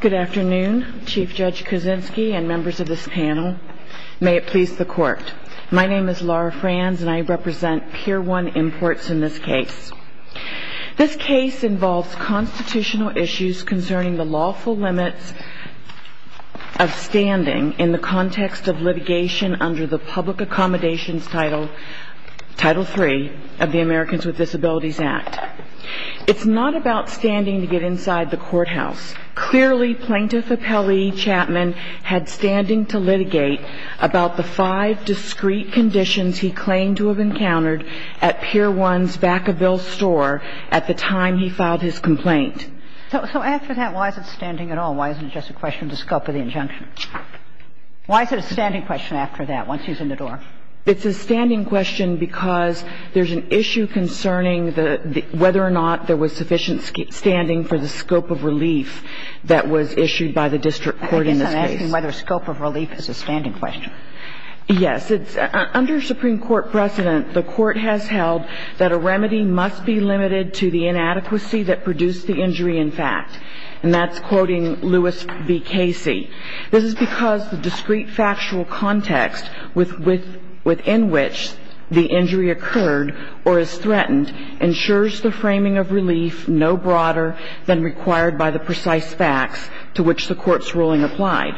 Good afternoon, Chief Judge Kuczynski and members of this panel. May it please the Court. My name is Laura Franz and I represent Pier 1 Imports in this case. This case involves constitutional issues concerning the lawful limits of standing in the context of litigation under the Public Accommodations Title 3 of the Americans with Disabilities Act. It's not about standing to get inside the courthouse. Clearly, Plaintiff Appellee Chapman had standing to litigate about the five discrete conditions he claimed to have encountered at Pier 1's Vacaville store at the time he filed his complaint. So after that, why is it standing at all? Why isn't it just a question of the scope of the injunction? Why is it a standing question after that, once he's in the door? It's a standing question because there's an issue concerning whether or not there was sufficient standing for the scope of relief that was issued by the district court in this case. I guess I'm asking whether scope of relief is a standing question. Yes. Under Supreme Court precedent, the Court has held that a remedy must be limited to the inadequacy that produced the injury in fact, and that's quoting Lewis v. Casey. This is because the discrete factual context within which the injury occurred or is threatened ensures the framing of relief no broader than required by the precise facts to which the Court's ruling applied.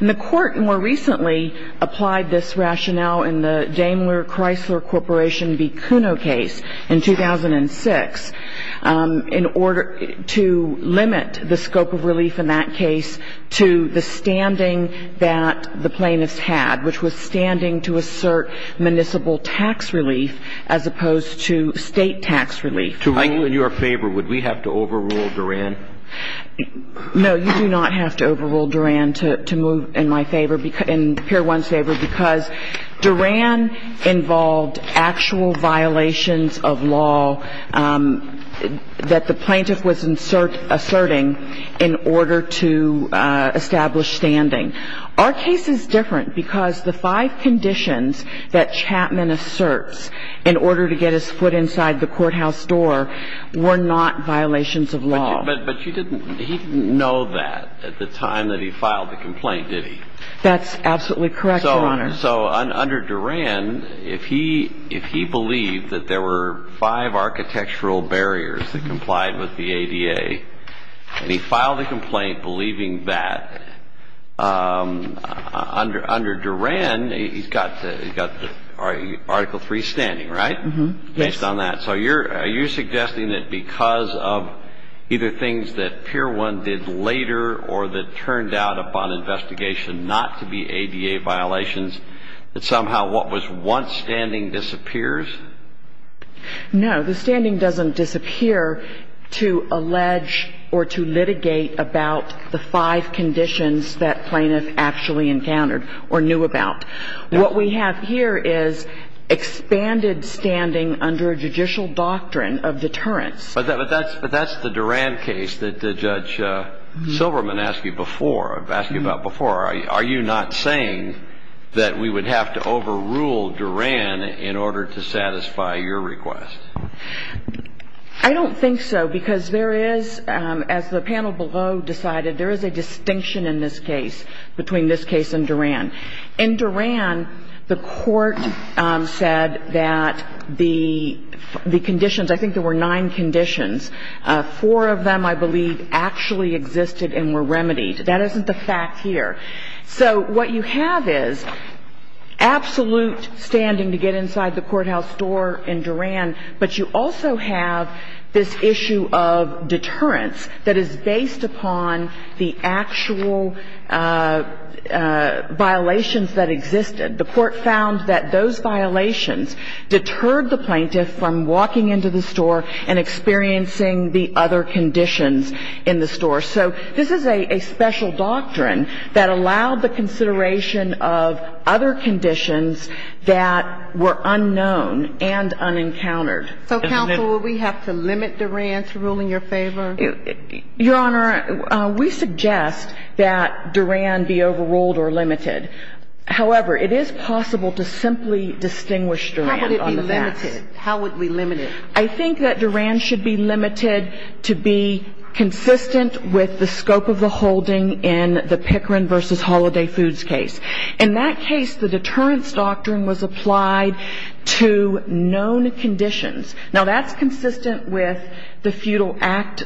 And the Court more recently applied this rationale in the Daimler Chrysler Corporation v. Kuno case in 2006 in order to limit the scope of relief in that case to the standing that the plaintiffs had, which was standing to assert municipal tax relief as opposed to state tax relief. To rule in your favor, would we have to overrule Duran? No, you do not have to overrule Duran to move in my favor, in Pier 1's favor, because Duran involved actual violations of law that the plaintiff was asserting in order to establish standing. Our case is different because the five conditions that Chapman asserts in order to get his foot inside the courthouse door were not violations of law. But he didn't know that at the time that he filed the complaint, did he? That's absolutely correct, Your Honor. So under Duran, if he believed that there were five architectural barriers that complied with the ADA, and he filed a complaint believing that, under Duran, he's got Article III standing, right? Yes. Based on that. So are you suggesting that because of either things that Pier 1 did later or that turned out upon investigation not to be ADA violations, that somehow what was once standing disappears? No. The standing doesn't disappear to allege or to litigate about the five conditions that plaintiff actually encountered or knew about. What we have here is expanded standing under a judicial doctrine of deterrence. But that's the Duran case that Judge Silverman asked you about before. Are you not saying that we would have to overrule Duran in order to satisfy your request? I don't think so because there is, as the panel below decided, there is a distinction in this case between this case and Duran. In Duran, the Court said that the conditions, I think there were nine conditions. Four of them, I believe, actually existed and were remedied. That isn't the fact here. So what you have is absolute standing to get inside the courthouse door in Duran, but you also have this issue of deterrence that is based upon the actual violations that existed. The Court found that those violations deterred the plaintiff from walking into the store and experiencing the other conditions in the store. So this is a special doctrine that allowed the consideration of other conditions that were unknown and unencountered. So, counsel, would we have to limit Duran's rule in your favor? Your Honor, we suggest that Duran be overruled or limited. However, it is possible to simply distinguish Duran on the facts. How would it be limited? How would we limit it? I think that Duran should be limited to be consistent with the scope of the holding in the Pickering v. Holiday Foods case. In that case, the deterrence doctrine was applied to known conditions. Now, that's consistent with the Feudal Act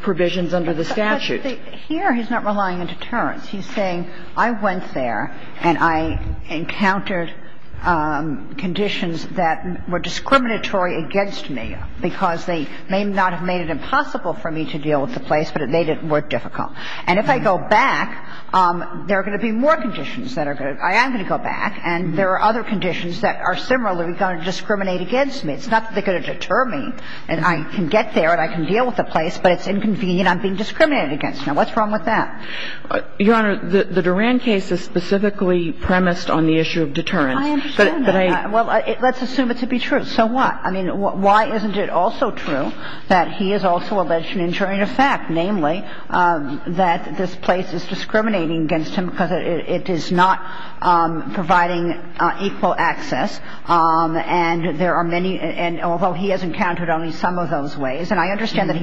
provisions under the statute. But here he's not relying on deterrence. He's saying, I went there and I encountered conditions that were discriminatory against me because they may not have made it impossible for me to deal with the place, but it made it more difficult. And if I go back, there are going to be more conditions that are going to go back, and there are other conditions that are similarly going to discriminate against me. It's not that they're going to deter me and I can get there and I can deal with the place, but it's inconvenient I'm being discriminated against. Now, what's wrong with that? Your Honor, the Duran case is specifically premised on the issue of deterrence. I understand that. Well, let's assume it to be true. So what? I mean, why isn't it also true that he is also allegedly ensuring a fact, namely, that this place is discriminating against him because it is not providing equal access? And there are many – and although he has encountered only some of those ways, and I understand that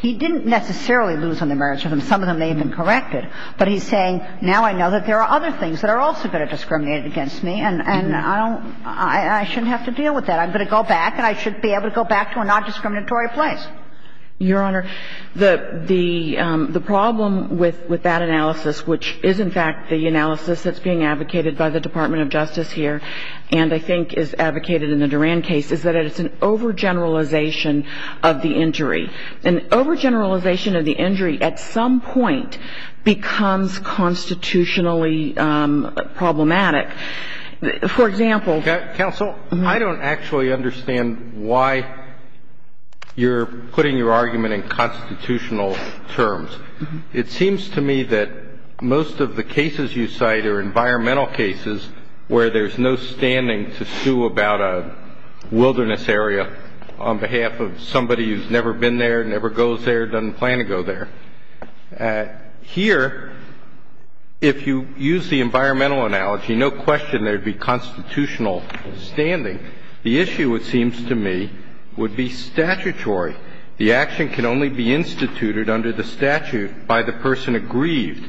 he didn't necessarily lose on the merits of them. Some of them may have been corrected. But he's saying, now I know that there are other things that are also going to discriminate against me, and I don't – I shouldn't have to deal with that. I'm going to go back, and I should be able to go back to a non-discriminatory place. Your Honor, the problem with that analysis, which is in fact the analysis that's being advocated by the Department of Justice here and I think is advocated in the Duran case, is that it's an overgeneralization of the injury. An overgeneralization of the injury at some point becomes constitutionally problematic. For example – Counsel, I don't actually understand why you're putting your argument in constitutional terms. It seems to me that most of the cases you cite are environmental cases where there's no standing to sue about a wilderness area on behalf of somebody who's never been there, never goes there, doesn't plan to go there. Here, if you use the environmental analogy, no question there would be constitutional standing. The issue, it seems to me, would be statutory. The action can only be instituted under the statute by the person aggrieved.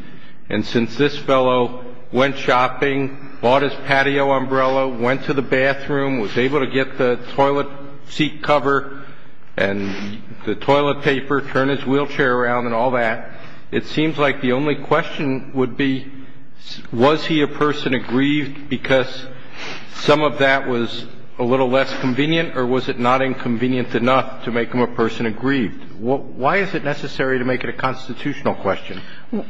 And since this fellow went shopping, bought his patio umbrella, went to the bathroom, was able to get the toilet seat cover and the toilet paper, turned his wheelchair around and all that, it seems like the only question would be was he a person aggrieved because some of that was a little less convenient or was it not inconvenient enough to make him a person aggrieved? Why is it necessary to make it a constitutional question?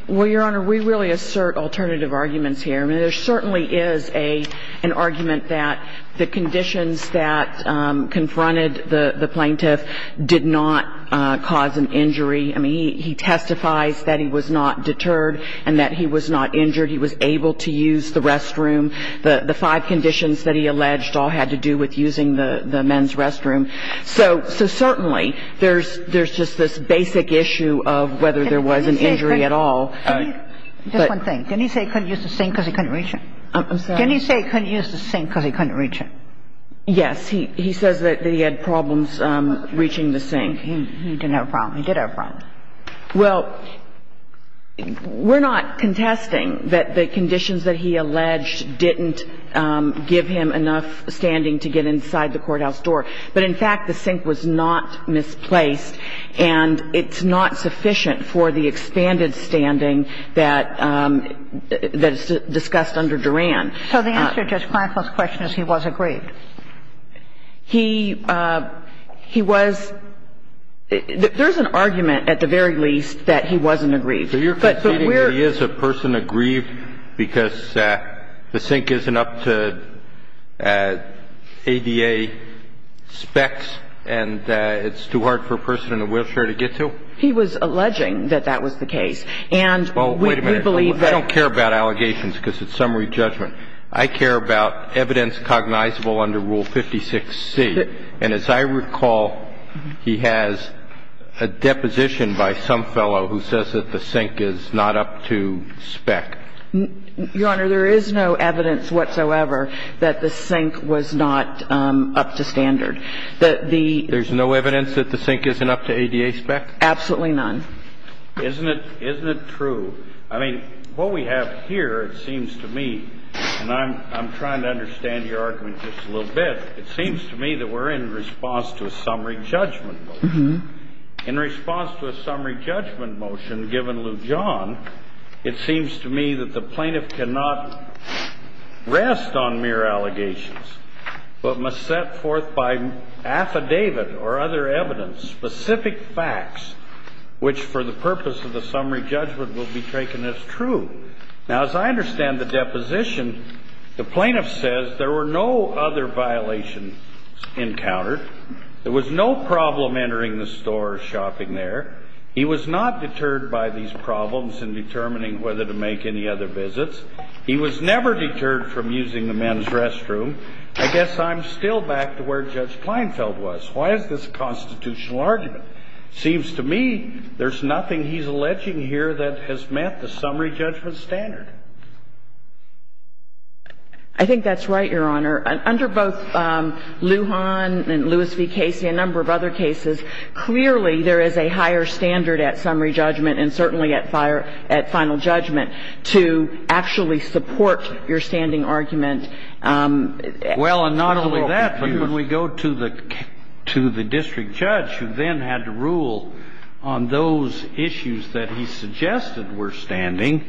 Well, Your Honor, we really assert alternative arguments here. I mean, there certainly is an argument that the conditions that confronted the plaintiff did not cause an injury. I mean, he testifies that he was not deterred and that he was not injured. He was able to use the restroom. The five conditions that he alleged all had to do with using the men's restroom. So certainly there's just this basic issue of whether there was an injury at all. Just one thing. Didn't he say he couldn't use the sink because he couldn't reach it? I'm sorry? Didn't he say he couldn't use the sink because he couldn't reach it? Yes. He says that he had problems reaching the sink. He didn't have a problem. He did have a problem. Well, we're not contesting that the conditions that he alleged didn't give him enough standing to get inside the courthouse door. But in fact, the sink was not misplaced, and it's not sufficient for the expanded standing that is discussed under Duran. So the answer to Judge Kleinfeld's question is he was aggrieved. He was – there's an argument at the very least that he wasn't aggrieved. So you're conceding that he is a person aggrieved because the sink isn't up to ADA specs and it's too hard for a person in a wheelchair to get to? He was alleging that that was the case. And we believe that – Well, wait a minute. I don't care about allegations because it's summary judgment. I care about evidence cognizable under Rule 56C. And as I recall, he has a deposition by some fellow who says that the sink is not up to spec. Your Honor, there is no evidence whatsoever that the sink was not up to standard. There's no evidence that the sink isn't up to ADA spec? Absolutely none. Isn't it true? I mean, what we have here, it seems to me, and I'm trying to understand your argument just a little bit. It seems to me that we're in response to a summary judgment motion. In response to a summary judgment motion given Lou John, it seems to me that the plaintiff cannot rest on mere allegations but must set forth by affidavit or other evidence specific facts which for the purpose of the summary judgment will be taken as true. Now, as I understand the deposition, the plaintiff says there were no other violations encountered. There was no problem entering the store or shopping there. He was not deterred by these problems in determining whether to make any other visits. He was never deterred from using the men's restroom. I guess I'm still back to where Judge Kleinfeld was. Why is this a constitutional argument? It seems to me there's nothing he's alleging here that has met the summary judgment standard. I think that's right, Your Honor. Under both Lou John and Lewis v. Casey and a number of other cases, clearly there is a higher standard at summary judgment and certainly at final judgment to actually support your standing argument. Well, and not only that, but when we go to the district judge who then had to rule on those issues that he suggested were standing,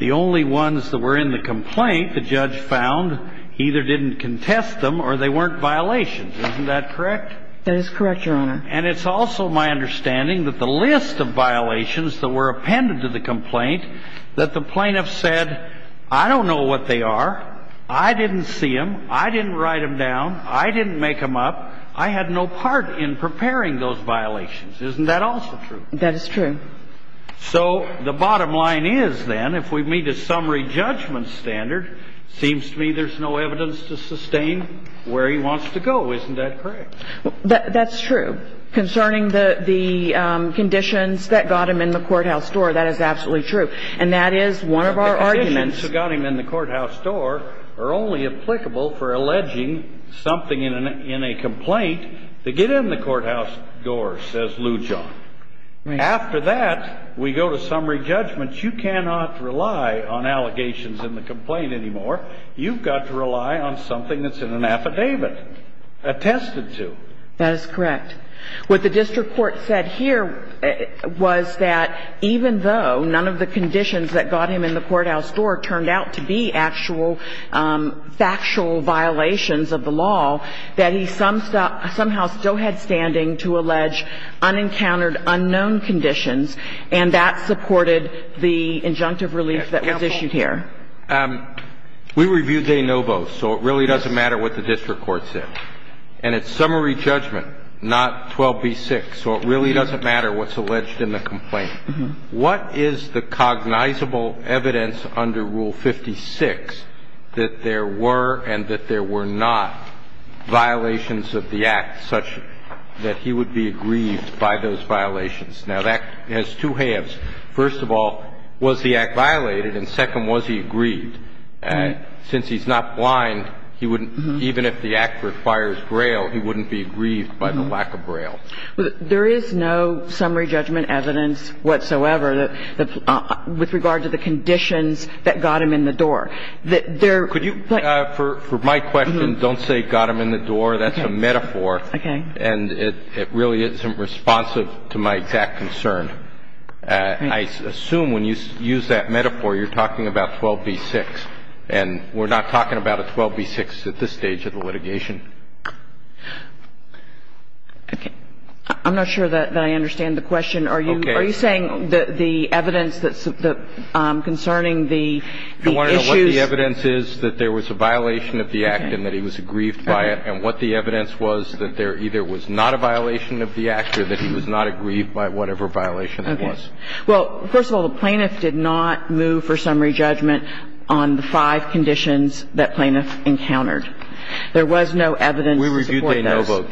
the only ones that were in the complaint the judge found either didn't contest them or they weren't violations. Isn't that correct? That is correct, Your Honor. And it's also my understanding that the list of violations that were appended to the complaint that the plaintiff said, I don't know what they are, I didn't see them, I didn't write them down, I didn't make them up, I had no part in preparing those violations. Isn't that also true? That is true. So the bottom line is, then, if we meet a summary judgment standard, it seems to me there's no evidence to sustain where he wants to go. Isn't that correct? That's true. Concerning the conditions that got him in the courthouse door, that is absolutely true. And that is one of our arguments. The conditions that got him in the courthouse door are only applicable for alleging something in a complaint to get in the courthouse door, says Lujan. After that, we go to summary judgment. You cannot rely on allegations in the complaint anymore. You've got to rely on something that's in an affidavit, attested to. That is correct. What the district court said here was that even though none of the conditions that got him in the courthouse door turned out to be actual factual violations of the law, that he somehow still had standing to allege unencountered, unknown conditions, and that supported the injunctive relief that was issued here. Counsel, we reviewed de novo, so it really doesn't matter what the district court said. And it's summary judgment, not 12b-6, so it really doesn't matter what's alleged in the complaint. What is the cognizable evidence under Rule 56 that there were and that there were not violations of the act such that he would be aggrieved by those violations? Now, that has two halves. First of all, was the act violated? And second, was he aggrieved? Since he's not blind, he wouldn't – even if the act requires Braille, he wouldn't be aggrieved by the lack of Braille. There is no summary judgment evidence whatsoever with regard to the conditions that got him in the door. Could you – For my question, don't say got him in the door. That's a metaphor. Okay. And it really isn't responsive to my exact concern. I assume when you use that metaphor, you're talking about 12b-6. And we're not talking about a 12b-6 at this stage of the litigation. Okay. I'm not sure that I understand the question. Okay. Are you saying that the evidence that's concerning the issues – Do you want to know what the evidence is that there was a violation of the act and that he was aggrieved by it, and what the evidence was that there either was not a violation of the act or that he was not aggrieved by whatever violation it was? Okay. Well, first of all, the plaintiff did not move for summary judgment on the five conditions that plaintiff encountered. There was no evidence to support those. We reviewed the no vote.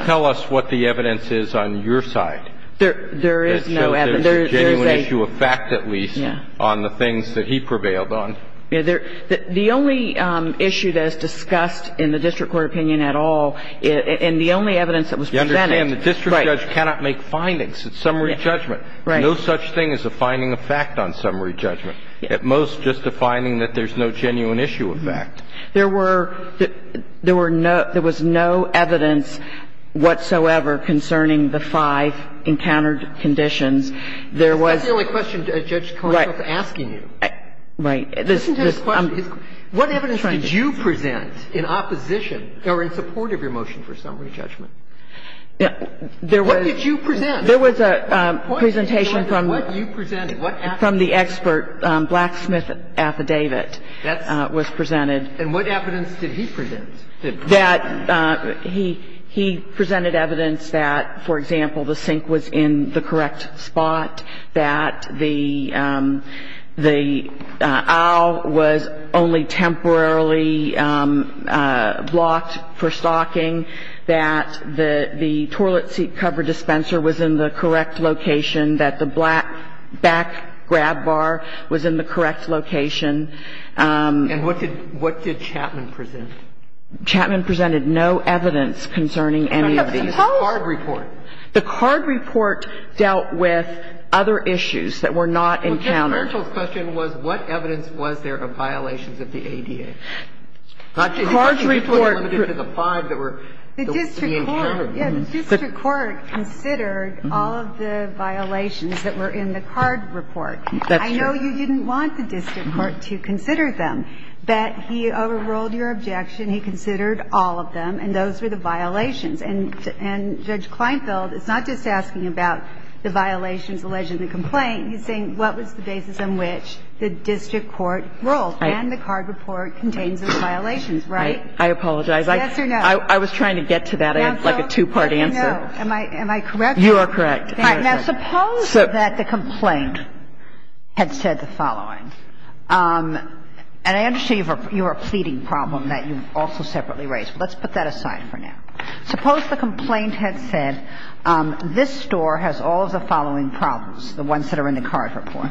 Tell us what the evidence is on your side. There is no evidence. There is a genuine issue of fact, at least, on the things that he prevailed on. The only issue that is discussed in the district court opinion at all, and the only evidence that was presented – You understand the district judge cannot make findings at summary judgment. Right. No such thing as a finding of fact on summary judgment. At most, just a finding that there's no genuine issue of fact. There were no – there was no evidence whatsoever concerning the five encountered conditions. There was – That's the only question Judge Constance is asking you. Right. What evidence did you present in opposition or in support of your motion for summary judgment? There was – What did you present? There was a presentation from – What did you present? From the expert blacksmith affidavit was presented. And what evidence did he present? He presented evidence that, for example, the sink was in the correct spot, that the aisle was only temporarily blocked for stocking, that the toilet seat cover dispenser was in the correct location, that the black back grab bar was in the correct location. And what did – what did Chapman present? Chapman presented no evidence concerning any of these. The card report. The card report dealt with other issues that were not encountered. Well, Judge Merkel's question was, what evidence was there of violations of the ADA? The card report – That's true. I know you didn't want the district court to consider them, but he overruled your objection. He considered all of them, and those were the violations. And Judge Kleinfeld is not just asking about the violations alleged in the complaint. He's saying what was the basis on which the district court ruled. Right. And the card report contains the violations, right? I apologize. Yes or no? I was trying to get to that. It was like a two-part answer. Am I correct? You are correct. Now, suppose that the complaint had said the following. And I understand you have a pleading problem that you also separately raised, but let's put that aside for now. Suppose the complaint had said this store has all of the following problems, the ones that are in the card report.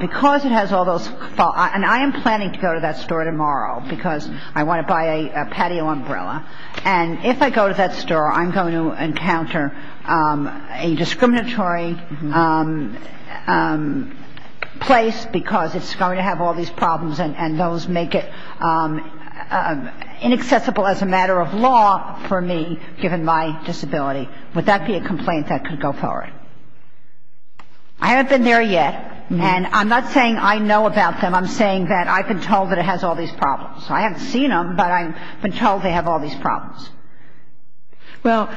Because it has all those – and I am planning to go to that store tomorrow because I want to buy a patio umbrella. And if I go to that store, I'm going to encounter a discriminatory place because it's going to have all these problems and those make it inaccessible as a matter of law for me, given my disability. Would that be a complaint that could go forward? I haven't been there yet, and I'm not saying I know about them. I'm saying that I've been told that it has all these problems. I haven't seen them, but I've been told they have all these problems. Well,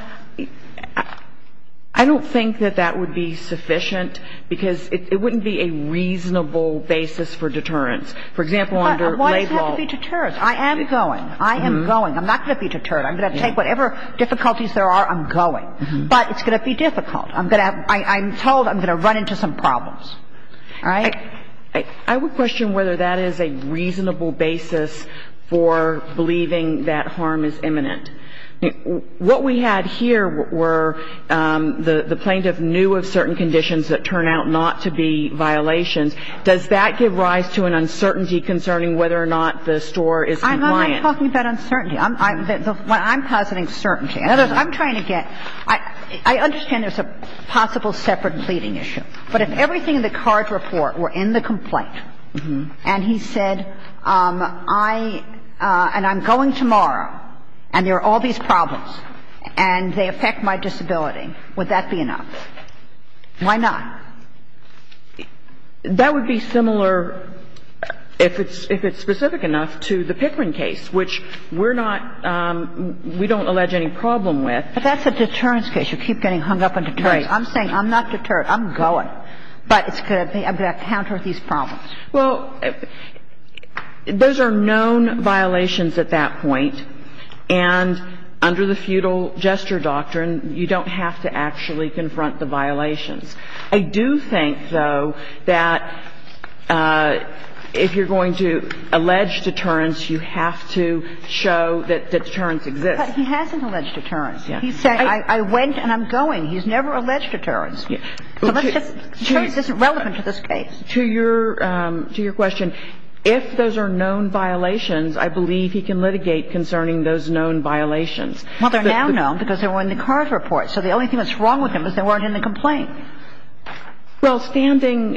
I don't think that that would be sufficient because it wouldn't be a reasonable basis for deterrence. For example, under laid law – Why does it have to be deterrence? I am going. I am going. I'm not going to be deterred. I'm going to take whatever difficulties there are. I'm going. But it's going to be difficult. I'm going to have – I'm told I'm going to run into some problems. All right? I would question whether that is a reasonable basis for believing that harm is imminent. What we had here were the plaintiff knew of certain conditions that turn out not to be violations. Does that give rise to an uncertainty concerning whether or not the store is compliant? I'm not talking about uncertainty. I'm positing certainty. In other words, I'm trying to get – I understand there's a possible separate pleading issue. But if everything in the card report were in the complaint and he said, I – and I'm going tomorrow and there are all these problems and they affect my disability, would that be enough? Why not? That would be similar, if it's specific enough, to the Pickering case, which we're not – we don't allege any problem with. But that's a deterrence case. You keep getting hung up on deterrence. Right. I'm saying I'm not deterred. I'm going. But it's going to be a counter to these problems. Well, those are known violations at that point. And under the feudal gesture doctrine, you don't have to actually confront the violations. I do think, though, that if you're going to allege deterrence, you have to show that deterrence exists. But he hasn't alleged deterrence. He said, I went and I'm going. He's never alleged deterrence. So let's just – deterrence isn't relevant to this case. To your – to your question, if those are known violations, I believe he can litigate concerning those known violations. Well, they're now known because they were in the card report. So the only thing that's wrong with them is they weren't in the complaint. Well, standing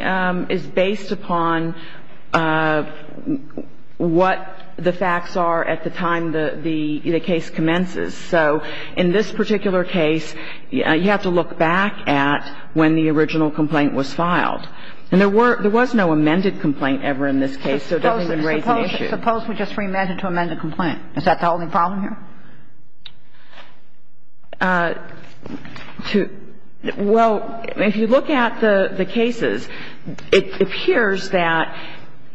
is based upon what the facts are at the time the case commences. So in this particular case, you have to look back at when the original complaint was filed. And there were – there was no amended complaint ever in this case, so that doesn't raise the issue. Suppose we just re-imagine to amend the complaint. Is that the only problem here? To – well, if you look at the cases, it appears that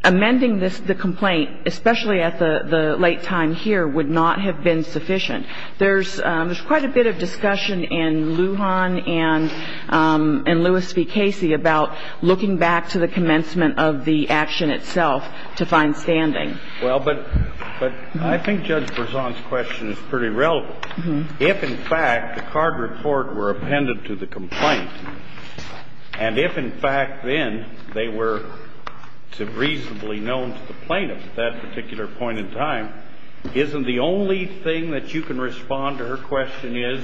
amending the complaint, especially at the late time here, would not have been sufficient. There's quite a bit of discussion in Lujan and Lewis v. Casey about looking back to the commencement of the action itself to find standing. Well, but I think Judge Berzon's question is pretty relevant. If, in fact, the card report were appended to the complaint, and if, in fact, then they were reasonably known to the plaintiff, at that particular point in time, isn't the only thing that you can respond to her question is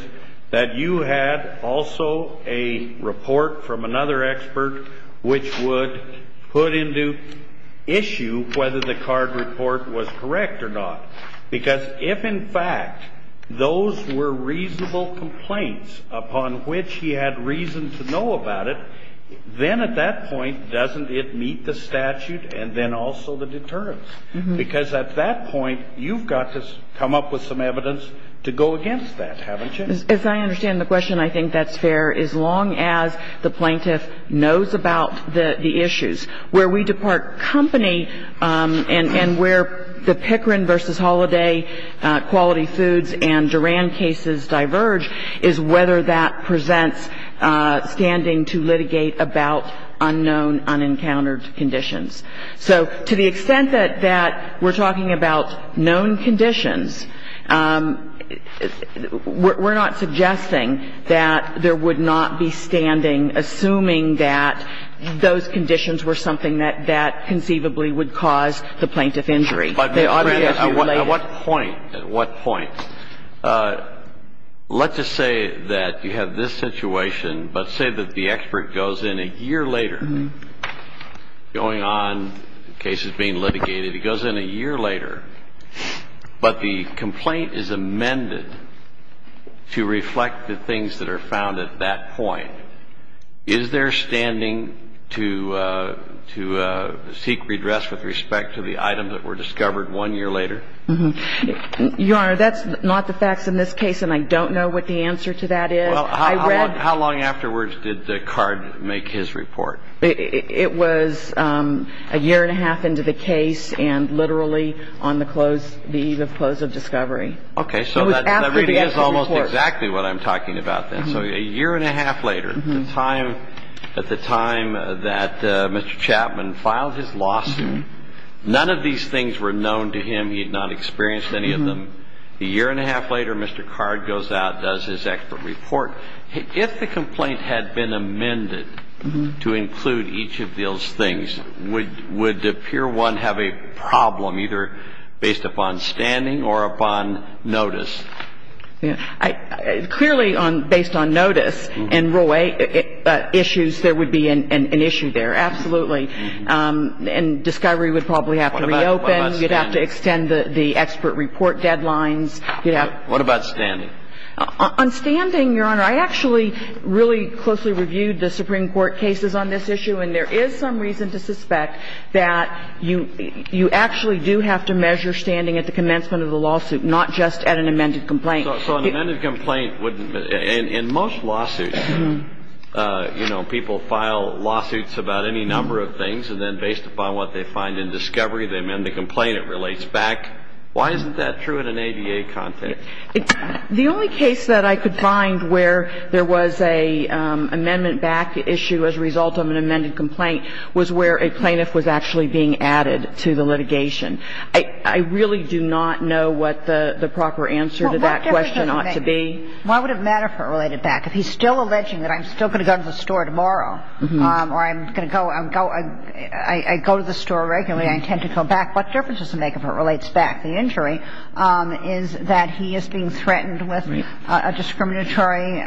that you had also a report from another expert which would put into issue whether the card report was correct or not. Because if, in fact, those were reasonable complaints upon which he had reason to know about it, then at that point, doesn't it meet the statute and then also the deterrence? Because at that point, you've got to come up with some evidence to go against that, haven't you? As I understand the question, I think that's fair. As long as the plaintiff knows about the issues. Where we depart company and where the Pickering v. Holliday quality foods and Duran cases diverge is whether that presents standing to litigate about unknown, unencountered conditions. So to the extent that we're talking about known conditions, we're not suggesting that there would not be standing assuming that those conditions were something that conceivably would cause the plaintiff injury. But at what point, at what point? Let's just say that you have this situation, but say that the expert goes in a year later, going on, the case is being litigated, he goes in a year later, but the complaint is amended to reflect the things that are found at that point. Is there standing to seek redress with respect to the items that were discovered one year later? Your Honor, that's not the facts in this case, and I don't know what the answer to that is. Well, how long afterwards did the card make his report? It was a year and a half into the case and literally on the eve of close of discovery. Okay. So that really is almost exactly what I'm talking about then. So a year and a half later, at the time that Mr. Chapman filed his lawsuit, none of these things were known to him. He had not experienced any of them. A year and a half later, Mr. Card goes out, does his expert report. If the complaint had been amended to include each of those things, would the peer one have a problem either based upon standing or upon notice? Clearly, based on notice and rule 8 issues, there would be an issue there, absolutely. And discovery would probably have to reopen. What about standing? You'd have to extend the expert report deadlines. What about standing? On standing, Your Honor, I actually really closely reviewed the Supreme Court cases on this issue, and there is some reason to suspect that you actually do have to measure standing at the commencement of the lawsuit, not just at an amended complaint. So an amended complaint would — in most lawsuits, you know, people file lawsuits about any number of things, and then based upon what they find in discovery, they amend the complaint. It relates back. Why isn't that true in an ADA content? The only case that I could find where there was an amendment back issue as a result of an amended complaint was where a plaintiff was actually being added to the litigation. I really do not know what the proper answer to that question ought to be. Well, what difference does it make? Why would it matter if it related back? If he's still alleging that I'm still going to go to the store tomorrow, or I'm going to go — I go to the store regularly, I intend to go back, what difference does it make if it relates back? The injury is that he is being threatened with a discriminatory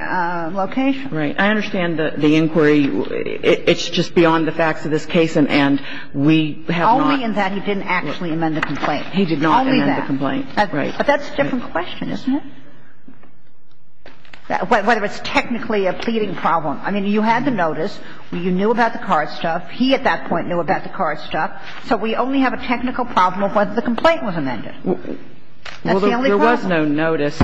location. Right. I understand the inquiry. It's just beyond the facts of this case, and we have not — Only in that he didn't actually amend the complaint. He did not amend the complaint. Right. But that's a different question, isn't it? Whether it's technically a pleading problem. I mean, you had the notice. You knew about the card stuff. He, at that point, knew about the card stuff. So we only have a technical problem of whether the complaint was amended. That's the only problem. Well, there was no notice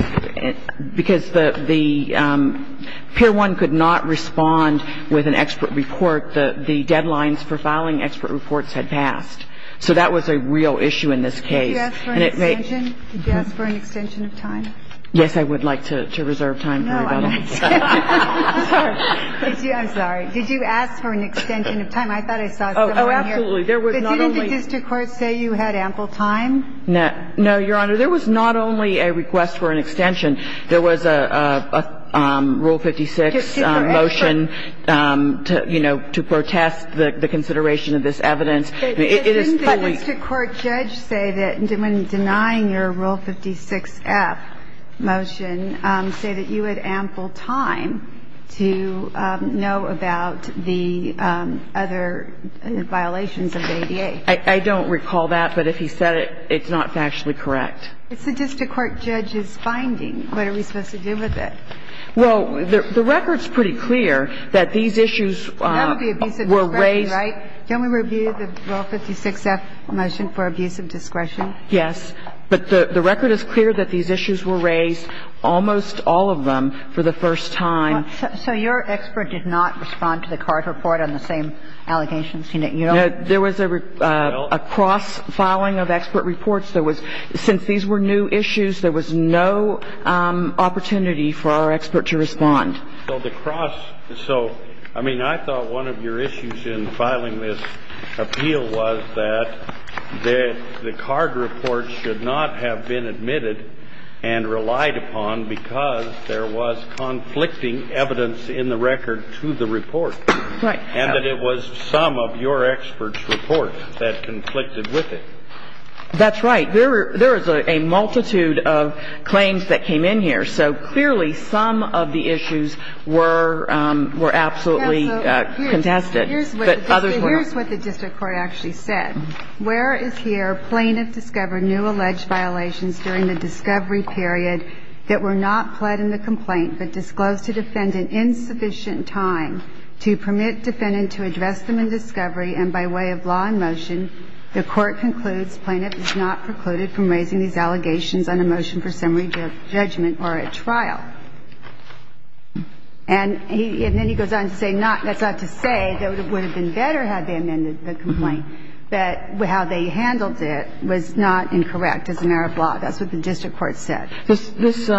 because the — the — Pier 1 could not respond with an expert report. The deadline for filing expert reports had passed. So that was a real issue in this case. Did you ask for an extension? Did you ask for an extension of time? Yes, I would like to reserve time for that. No, I'm sorry. I'm sorry. Did you ask for an extension of time? I thought I saw someone here. Oh, absolutely. There was not only — Didn't the district court say you had ample time? No, Your Honor. There was not only a request for an extension. There was a Rule 56 motion to, you know, to protest the consideration of this evidence. It is fully — Didn't the district court judge say that when denying your Rule 56-F motion, say that you had ample time to know about the other violations of the ADA? I don't recall that. But if he said it, it's not factually correct. It's the district court judge's finding. What are we supposed to do with it? Well, the record's pretty clear that these issues were raised — None of the abuse of discretion, right? Can we review the Rule 56-F motion for abuse of discretion? Yes. But the record is clear that these issues were raised, almost all of them, for the first time. So your expert did not respond to the card report on the same allegations? You don't — There was a cross-filing of expert reports. There was — since these were new issues, there was no opportunity for our expert to respond. So the cross — so, I mean, I thought one of your issues in filing this appeal was that the card report should not have been admitted and relied upon because there was conflicting evidence in the record to the report. Right. And that it was some of your expert's reports that conflicted with it. That's right. There is a multitude of claims that came in here. So, clearly, some of the issues were absolutely contested. But others were not. Here's what the district court actually said. Where is here plaintiff discovered new alleged violations during the discovery period that were not pled in the complaint but disclosed to defendant in sufficient time to permit defendant to address them in discovery and by way of law in motion, the court concludes plaintiff is not precluded from raising these allegations on a motion for summary judgment or a trial. And he — and then he goes on to say not — that's not to say that it would have been better had they amended the complaint, but how they handled it was not incorrect as an Arab law. That's what the district court said. This —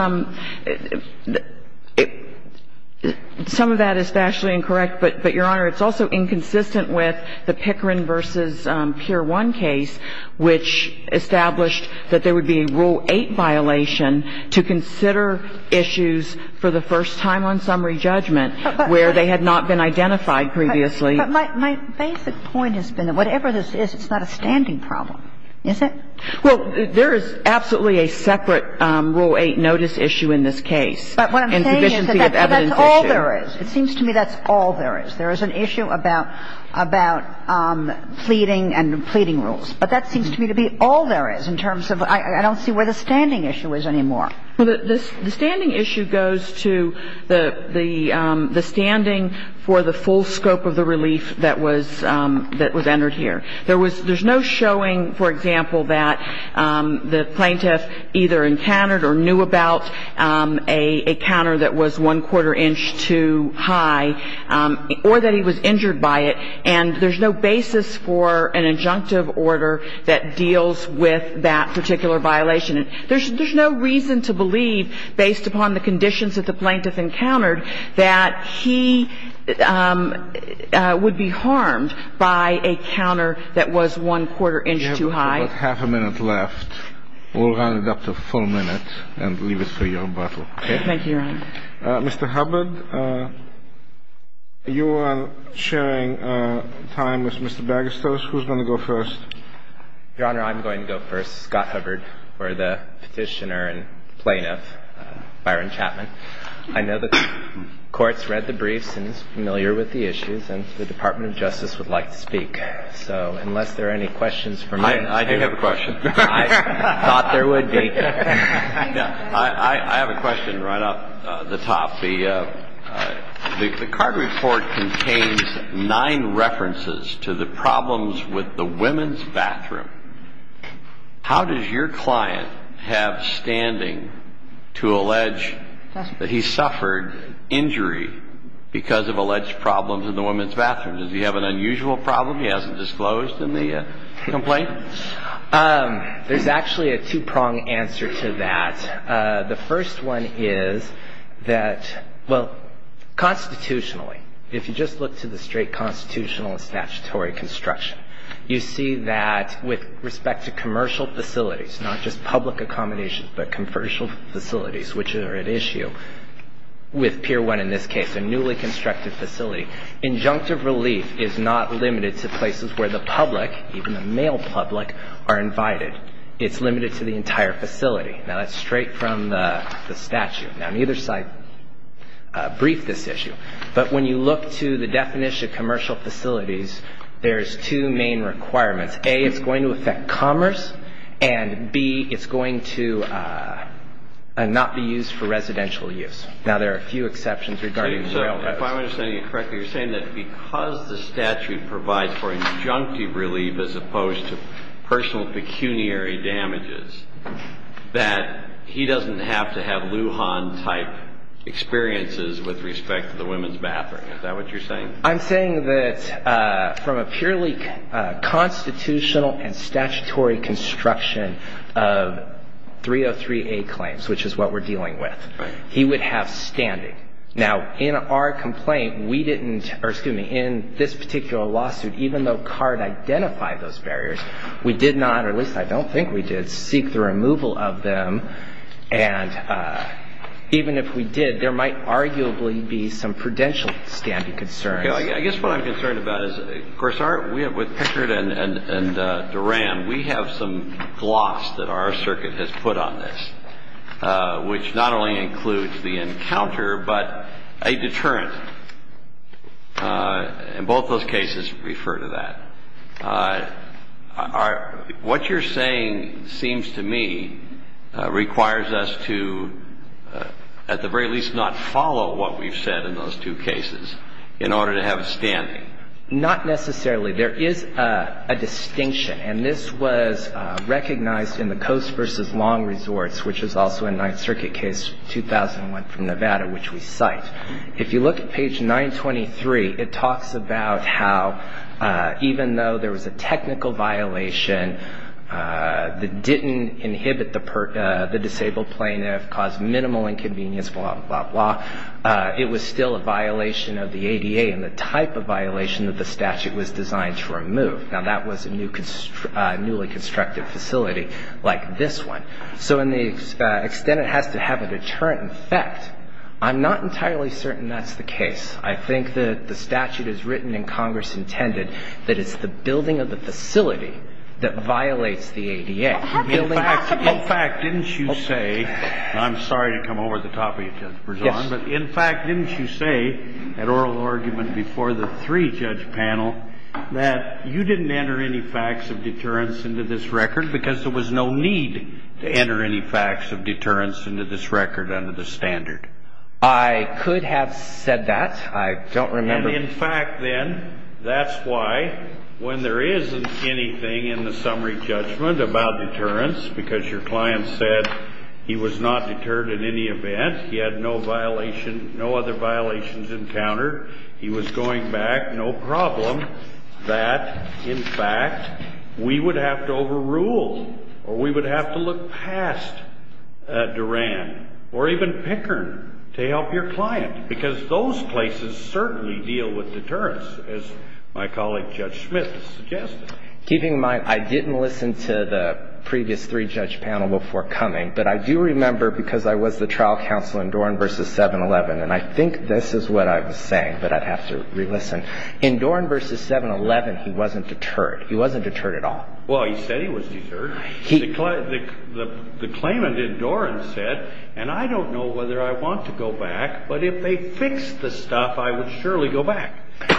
some of that is vastly incorrect, but, Your Honor, it's also inconsistent with the Pickering v. Pier 1 case, which established that there would be a Rule 8 violation to consider issues for the first time on summary judgment where they had not been identified previously. But my basic point has been that whatever this is, it's not a standing problem, is it? Well, there is absolutely a separate Rule 8 notice issue in this case. But what I'm saying is that that's all there is. It seems to me that's all there is. There is an issue about — about pleading and pleading rules. But that seems to me to be all there is in terms of — I don't see where the standing issue is anymore. Well, the standing issue goes to the — the standing for the full scope of the relief that was — that was entered here. There was — there's no showing, for example, that the plaintiff either encountered or knew about a counter that was one-quarter inch too high or that he was injured by it. And there's no basis for an injunctive order that deals with that particular violation. There's no reason to believe, based upon the conditions that the plaintiff encountered, that he would be harmed by a counter that was one-quarter inch too high. You have about half a minute left. We'll round it up to a full minute and leave it for your rebuttal. Okay. Thank you, Your Honor. Mr. Hubbard, you are sharing time with Mr. Bagastos. Who's going to go first? Your Honor, I'm going to go first. Scott Hubbard, or the petitioner and plaintiff, Byron Chapman. I know that the Court's read the briefs and is familiar with the issues, and the Department of Justice would like to speak. So unless there are any questions for me — I do have a question. I thought there would be. I have a question right off the top. The card report contains nine references to the problems with the women's bathroom. How does your client have standing to allege that he suffered injury because of alleged problems in the women's bathroom? Does he have an unusual problem he hasn't disclosed in the complaint? There's actually a two-pronged answer to that. The first one is that, well, constitutionally, if you just look to the straight constitutional and statutory construction, you see that with respect to commercial facilities, not just public accommodations, but commercial facilities, which are at issue with Pier 1 in this case, a newly constructed facility, injunctive relief is not limited to places where the public, even the male public, are invited. It's limited to the entire facility. Now, that's straight from the statute. Now, neither side briefed this issue. But when you look to the definition of commercial facilities, there's two main requirements. A, it's going to affect commerce. And B, it's going to not be used for residential use. Now, there are a few exceptions regarding the male public. So if I'm understanding you correctly, you're saying that because the statute provides for injunctive relief as opposed to personal pecuniary damages, that he doesn't have to have Lujan-type experiences with respect to the women's bathroom. Is that what you're saying? I'm saying that from a purely constitutional and statutory construction of 303A claims, which is what we're dealing with, he would have standing. Now, in our complaint, we didn't, or excuse me, in this particular lawsuit, even though CARD identified those barriers, we did not, or at least I don't think we did, seek the removal of them. And even if we did, there might arguably be some prudential standing concerns. I guess what I'm concerned about is, of course, with Pickard and Duran, we have some gloss that our circuit has put on this, which not only includes the encounter, but a deterrent. And both those cases refer to that. What you're saying seems to me requires us to, at the very least, not follow what we've said in those two cases in order to have a standing. Not necessarily. There is a distinction. And this was recognized in the Coast versus Long Resorts, which is also a Ninth Circuit case, 2001 from Nevada, which we cite. If you look at page 923, it talks about how even though there was a technical violation that didn't inhibit the disabled plaintiff, caused minimal inconvenience, blah, blah, blah, it was still a violation of the ADA and the type of violation that the statute was designed to remove. Now, that was a newly constructed facility like this one. So in the extent it has to have a deterrent effect, I'm not entirely certain that's the case. I think that the statute is written in Congress intended that it's the building of the facility that violates the ADA. In fact, didn't you say, and I'm sorry to come over the top of you, Judge Berzon, but in fact, didn't you say at oral argument before the three-judge panel that you didn't enter any facts of deterrence into this record because there was no need to enter any facts of deterrence into this record under the standard? I could have said that. I don't remember. And in fact, then, that's why when there isn't anything in the summary judgment about deterrence because your client said he was not deterred in any event, he had no other violations encountered, he was going back, no problem, that, in fact, we would have to overrule or we would have to look past Duran or even Pickern to help your client because those places certainly deal with deterrence, as my colleague Judge Smith suggested. Keeping in mind I didn't listen to the previous three-judge panel before coming, but I do remember because I was the trial counsel in Duran v. 7-11, and I think this is what I was saying, but I'd have to re-listen. In Duran v. 7-11, he wasn't deterred. He wasn't deterred at all. Well, he said he was deterred. The claimant in Duran said, and I don't know whether I want to go back, but if they fix the stuff, I would surely go back.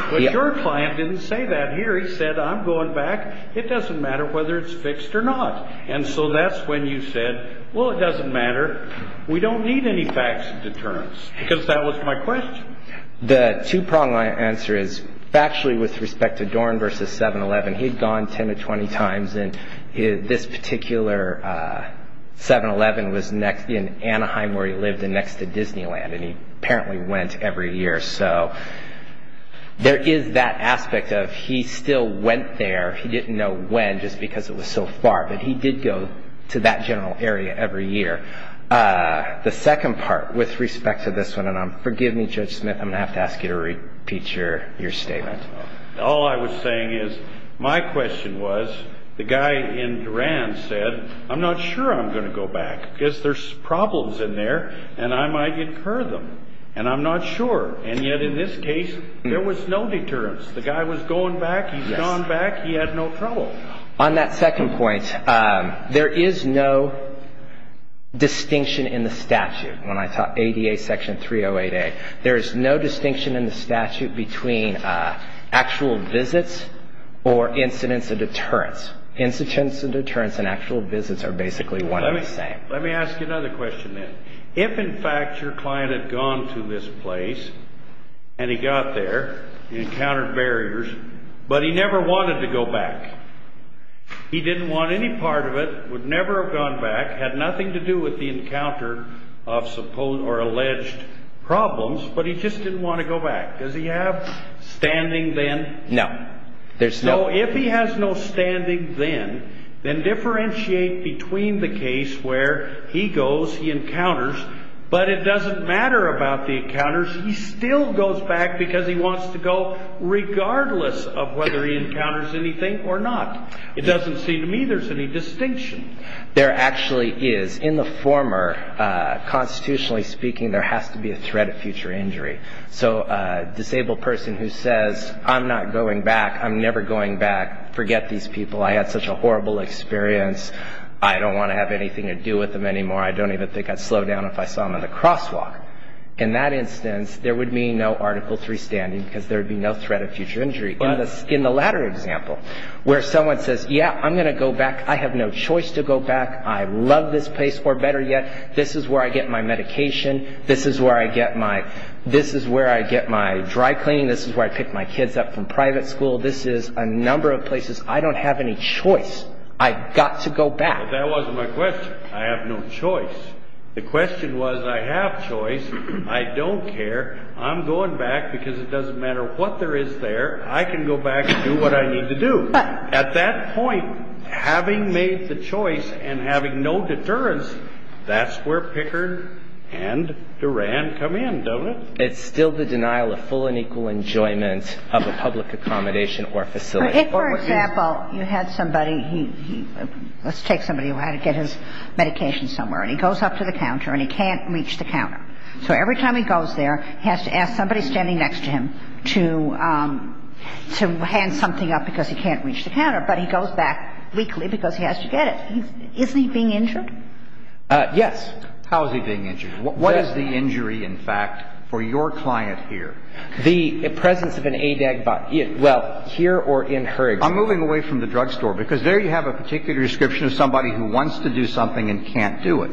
But your client didn't say that here. He said, I'm going back. It doesn't matter whether it's fixed or not. And so that's when you said, well, it doesn't matter. We don't need any facts of deterrence because that was my question. The two-prong answer is factually with respect to Duran v. 7-11, he had gone 10 or 20 times, and this particular 7-11 was in Anaheim where he lived and next to Disneyland, and he apparently went every year. There is that aspect of he still went there. He didn't know when just because it was so far, but he did go to that general area every year. The second part with respect to this one, and forgive me, Judge Smith, I'm going to have to ask you to repeat your statement. All I was saying is my question was the guy in Duran said, I'm not sure I'm going to go back because there's problems in there, and I might incur them, and I'm not sure. And yet in this case, there was no deterrence. The guy was going back. He's gone back. He had no trouble. On that second point, there is no distinction in the statute. When I taught ADA Section 308A, there is no distinction in the statute between actual visits or incidents of deterrence. Incidents of deterrence and actual visits are basically one and the same. Let me ask you another question then. If, in fact, your client had gone to this place and he got there, he encountered barriers, but he never wanted to go back, he didn't want any part of it, would never have gone back, had nothing to do with the encounter of alleged problems, but he just didn't want to go back. Does he have standing then? No. So if he has no standing then, then differentiate between the case where he goes, he encounters, but it doesn't matter about the encounters. He still goes back because he wants to go regardless of whether he encounters anything or not. It doesn't seem to me there's any distinction. There actually is. In the former, constitutionally speaking, there has to be a threat of future injury. So a disabled person who says, I'm not going back, I'm never going back, forget these people, I had such a horrible experience, I don't want to have anything to do with them anymore, I don't even think I'd slow down if I saw them in the crosswalk. In that instance, there would be no Article III standing because there would be no threat of future injury. In the latter example, where someone says, yeah, I'm going to go back, I have no choice to go back, I love this place, or better yet, this is where I get my medication, this is where I get my dry cleaning, this is where I pick my kids up from private school, this is a number of places I don't have any choice. I've got to go back. That wasn't my question. I have no choice. The question was, I have choice, I don't care, I'm going back because it doesn't matter what there is there, I can go back and do what I need to do. At that point, having made the choice and having no deterrence, that's where Pickard and Duran come in, don't it? It's still the denial of full and equal enjoyment of a public accommodation or facility. If, for example, you had somebody, let's take somebody who had to get his medication somewhere, and he goes up to the counter and he can't reach the counter, so every time he goes there, he has to ask somebody standing next to him to hand something up because he can't reach the counter, but he goes back weakly because he has to get it. Isn't he being injured? Yes. How is he being injured? What is the injury, in fact, for your client here? The presence of an ADAG, well, here or in her example. I'm moving away from the drugstore because there you have a particular description of somebody who wants to do something and can't do it.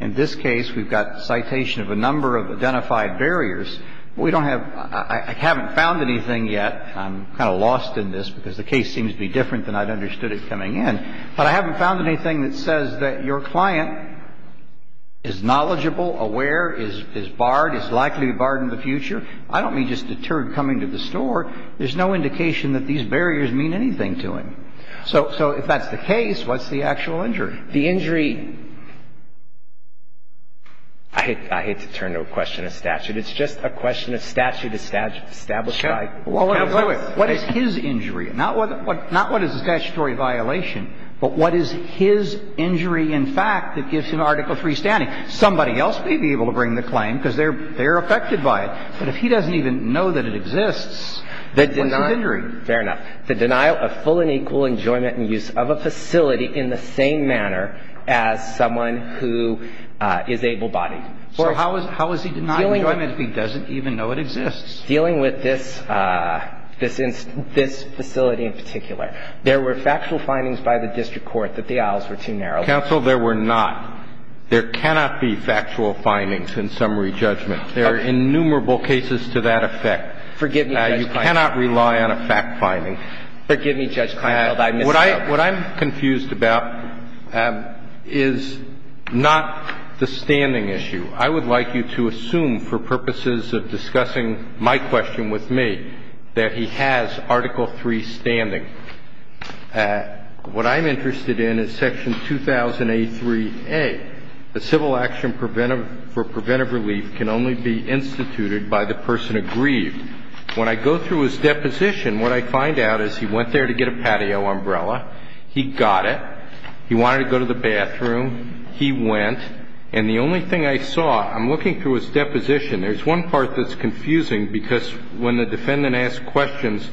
In this case, we've got citation of a number of identified barriers. We don't have – I haven't found anything yet. I'm kind of lost in this because the case seems to be different than I'd understood it coming in. But I haven't found anything that says that your client is knowledgeable, aware, is barred, is likely barred in the future. I don't mean just deterred coming to the store. There's no indication that these barriers mean anything to him. So if that's the case, what's the actual injury? The injury – I hate to turn to a question of statute. It's just a question of statute established by counsel. What is his injury? Not what is a statutory violation, but what is his injury, in fact, that gives him Article III standing? Somebody else may be able to bring the claim because they're affected by it. But if he doesn't even know that it exists, what's his injury? Fair enough. The denial of full and equal enjoyment and use of a facility in the same manner as someone who is able-bodied. So how is he denying enjoyment if he doesn't even know it exists? Dealing with this facility in particular. There were factual findings by the district court that the aisles were too narrow. Counsel, there were not. There cannot be factual findings in summary judgment. Forgive me, Judge Kline. You cannot rely on a fact-finding. Forgive me, Judge Kleinfeld, I messed up. What I'm confused about is not the standing issue. I would like you to assume, for purposes of discussing my question with me, that he has Article III standing. What I'm interested in is Section 2000A3A, the civil action for preventive relief can only be instituted by the person aggrieved. When I go through his deposition, what I find out is he went there to get a patio umbrella. He got it. He wanted to go to the bathroom. He went. And the only thing I saw, I'm looking through his deposition, there's one part that's confusing because when the defendant asks questions,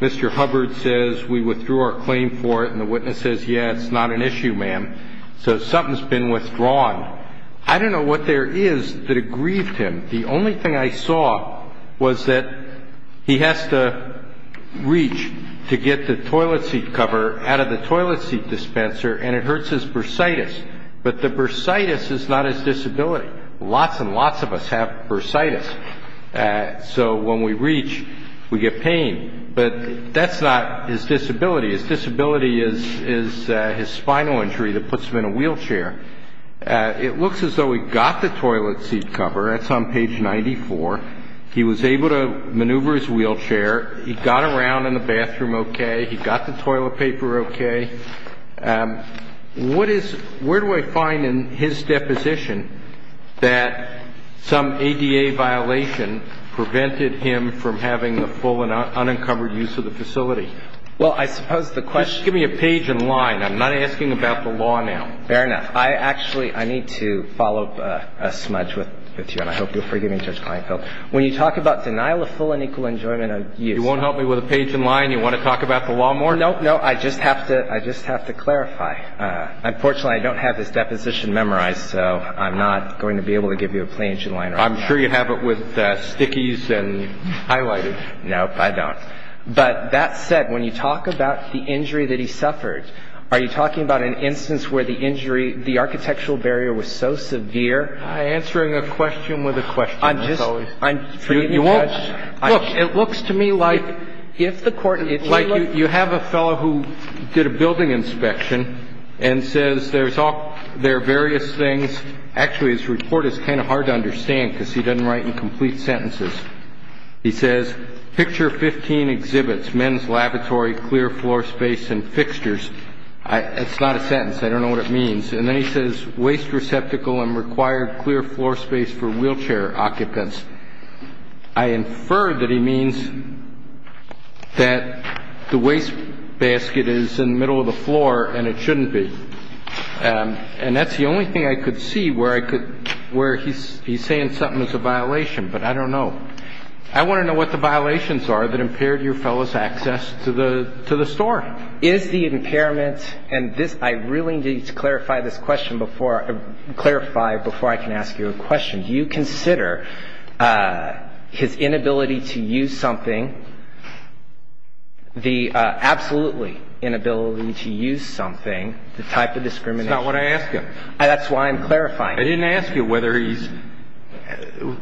Mr. Hubbard says, we withdrew our claim for it, and the witness says, yeah, it's not an issue, ma'am. So something's been withdrawn. I don't know what there is that aggrieved him. The only thing I saw was that he has to reach to get the toilet seat cover out of the toilet seat dispenser, and it hurts his bursitis. But the bursitis is not his disability. Lots and lots of us have bursitis. So when we reach, we get pain. But that's not his disability. His disability is his spinal injury that puts him in a wheelchair. It looks as though he got the toilet seat cover. That's on page 94. He was able to maneuver his wheelchair. He got around in the bathroom okay. He got the toilet paper okay. What is ñ where do I find in his deposition that some ADA violation prevented him from having the full and unencumbered use of the facility? Well, I suppose the question ñ Just give me a page in line. I'm not asking about the law now. Fair enough. I actually ñ I need to follow up a smudge with you, and I hope you'll forgive me, Judge Kleinfeld. When you talk about denial of full and equal enjoyment of use ñ You won't help me with a page in line? You want to talk about the law more? No, no. I just have to clarify. Unfortunately, I don't have his deposition memorized, so I'm not going to be able to give you a page in line. I'm sure you have it with stickies and highlighted. No, I don't. But that said, when you talk about the injury that he suffered, are you talking about an instance where the injury, the architectural barrier was so severe? I'm answering a question with a question, as always. I'm just ñ You won't ñ look, it looks to me like if the court ñ Like you have a fellow who did a building inspection and says there's all ñ there are various things. Actually, his report is kind of hard to understand because he doesn't write in complete sentences. He says, picture 15 exhibits, men's lavatory, clear floor space and fixtures. It's not a sentence. I don't know what it means. And then he says waste receptacle and required clear floor space for wheelchair occupants. I infer that he means that the wastebasket is in the middle of the floor and it shouldn't be. And that's the only thing I could see where I could ñ where he's saying something is a violation. But I don't know. I want to know what the violations are that impaired your fellow's access to the store. Is the impairment ñ and this ñ I really need to clarify this question before ñ clarify it before I can ask you a question. Do you consider his inability to use something, the absolutely inability to use something, the type of discrimination ñ That's not what I asked you. That's why I'm clarifying. I didn't ask you whether he's ñ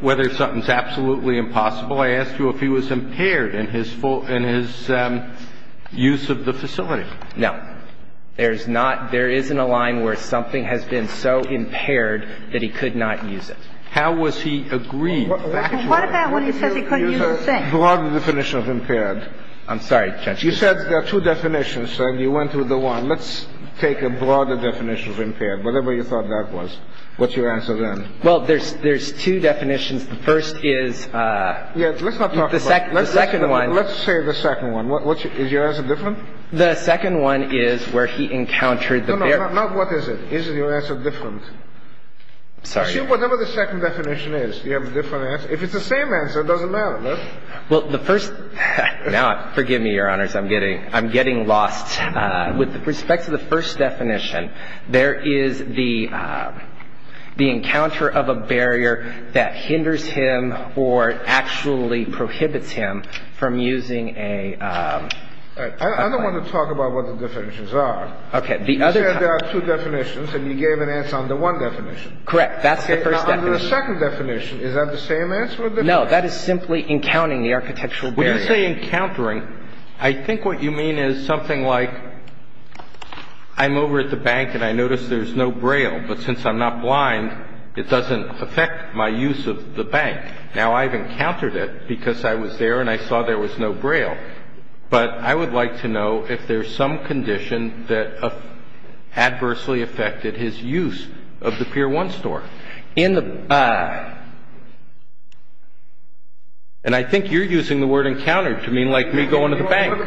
whether something's absolutely impossible. I asked you if he was impaired in his full ñ in his use of the facility. No. There's not ñ there isn't a line where something has been so impaired that he could not use it. How was he agreed? What about when he says he couldn't use a thing? He used a broader definition of impaired. I'm sorry, Judge. You said there are two definitions, and you went with the one. Let's take a broader definition of impaired, whatever you thought that was. What's your answer then? Well, there's two definitions. The first is ñ Yes. Let's not talk about it. The second one ñ Let's say the second one. Is your answer different? The second one is where he encountered the ñ No, no. Not what is it. Is your answer different? I'm sorry. Whatever the second definition is, you have a different answer. If it's the same answer, it doesn't matter. Well, the first ñ now, forgive me, Your Honors. I'm getting ñ I'm getting lost. With respect to the first definition, there is the encounter of a barrier that hinders him or actually prohibits him from using a ñ I don't want to talk about what the definitions are. Okay. The other ñ You said there are two definitions, and you gave an answer under one definition. Correct. That's the first definition. Okay. Now, under the second definition, is that the same answer or different? No. That is simply encountering the architectural barrier. When you say encountering, I think what you mean is something like I'm over at the bank and I notice there's no Braille, but since I'm not blind, it doesn't affect my use of the bank. Now, I've encountered it because I was there and I saw there was no Braille, but I would like to know if there's some condition that adversely affected his use of the Pier 1 store. In the ñ and I think you're using the word encounter to mean like me going to the bank.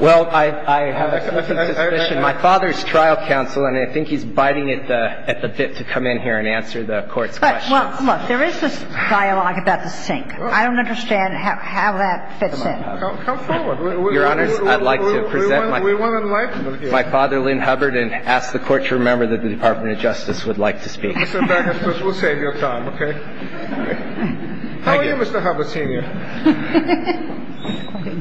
Well, I have a suspicion. My father's trial counsel, and I think he's biting at the bit to come in here and answer the Court's questions. Well, look. There is this dialogue about the sink. I don't understand how that fits in. Come forward. Your Honors, I'd like to present my father, Lynn Hubbard, and ask the Court to remember that the Department of Justice would like to speak. We'll save your time, okay? How are you, Mr. Hubbard, Sr.?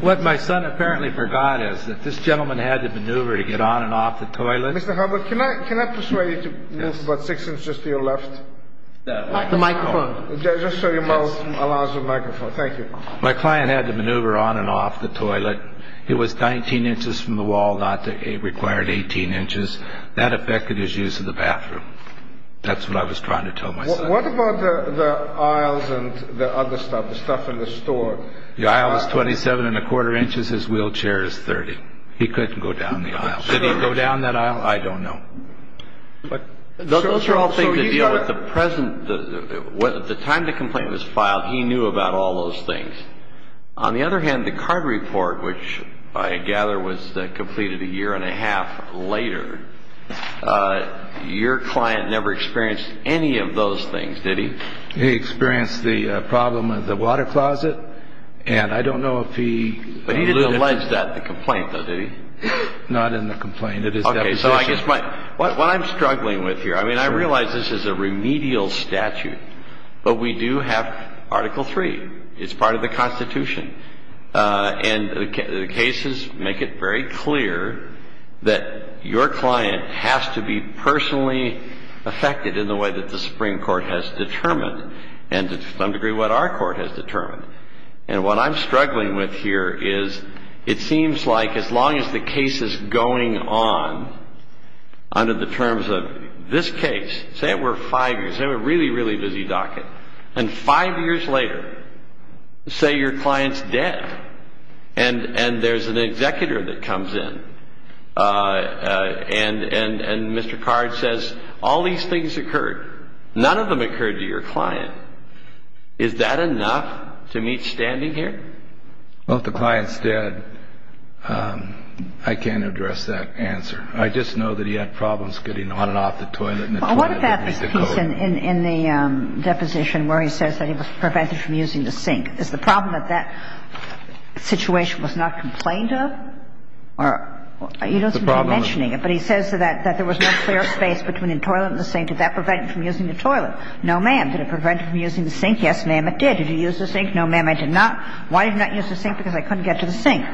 What my son apparently forgot is that this gentleman had to maneuver to get on and off the toilet. Mr. Hubbard, can I persuade you to move about six inches to your left? The microphone. Just so your mouth allows the microphone. Thank you. My client had to maneuver on and off the toilet. It was 19 inches from the wall, not the required 18 inches. That affected his use of the bathroom. That's what I was trying to tell my son. What about the aisles and the other stuff, the stuff in the store? The aisle is 27 1⁄4 inches. His wheelchair is 30. He couldn't go down the aisle. Did he go down that aisle? I don't know. Those are all things to deal with. At the time the complaint was filed, he knew about all those things. On the other hand, the card report, which I gather was completed a year and a half later, your client never experienced any of those things, did he? He experienced the problem with the water closet, and I don't know if he… But he didn't allege that in the complaint, though, did he? Not in the complaint. Okay, so I guess what I'm struggling with here, I mean, I realize this is a remedial statute, but we do have Article III. It's part of the Constitution. And the cases make it very clear that your client has to be personally affected in the way that the Supreme Court has determined and to some degree what our court has determined. And what I'm struggling with here is it seems like as long as the case is going on under the terms of this case, say it were five years, say it were a really, really busy docket, and five years later, say your client's dead, and there's an executor that comes in and Mr. Card says all these things occurred. None of them occurred to your client. Is that enough to meet standing here? Well, if the client's dead, I can't address that answer. I just know that he had problems getting on and off the toilet and the toilet that needs to go. Well, what about this piece in the deposition where he says that he was prevented from using the sink? Is the problem that that situation was not complained of? Or you don't seem to be mentioning it, but he says that there was no clear space between the toilet and the sink. Did that prevent him from using the toilet? No, ma'am. Did it prevent him from using the sink? Yes, ma'am, it did. Did he use the sink? No, ma'am, I did not. Why did he not use the sink? Because I couldn't get to the sink.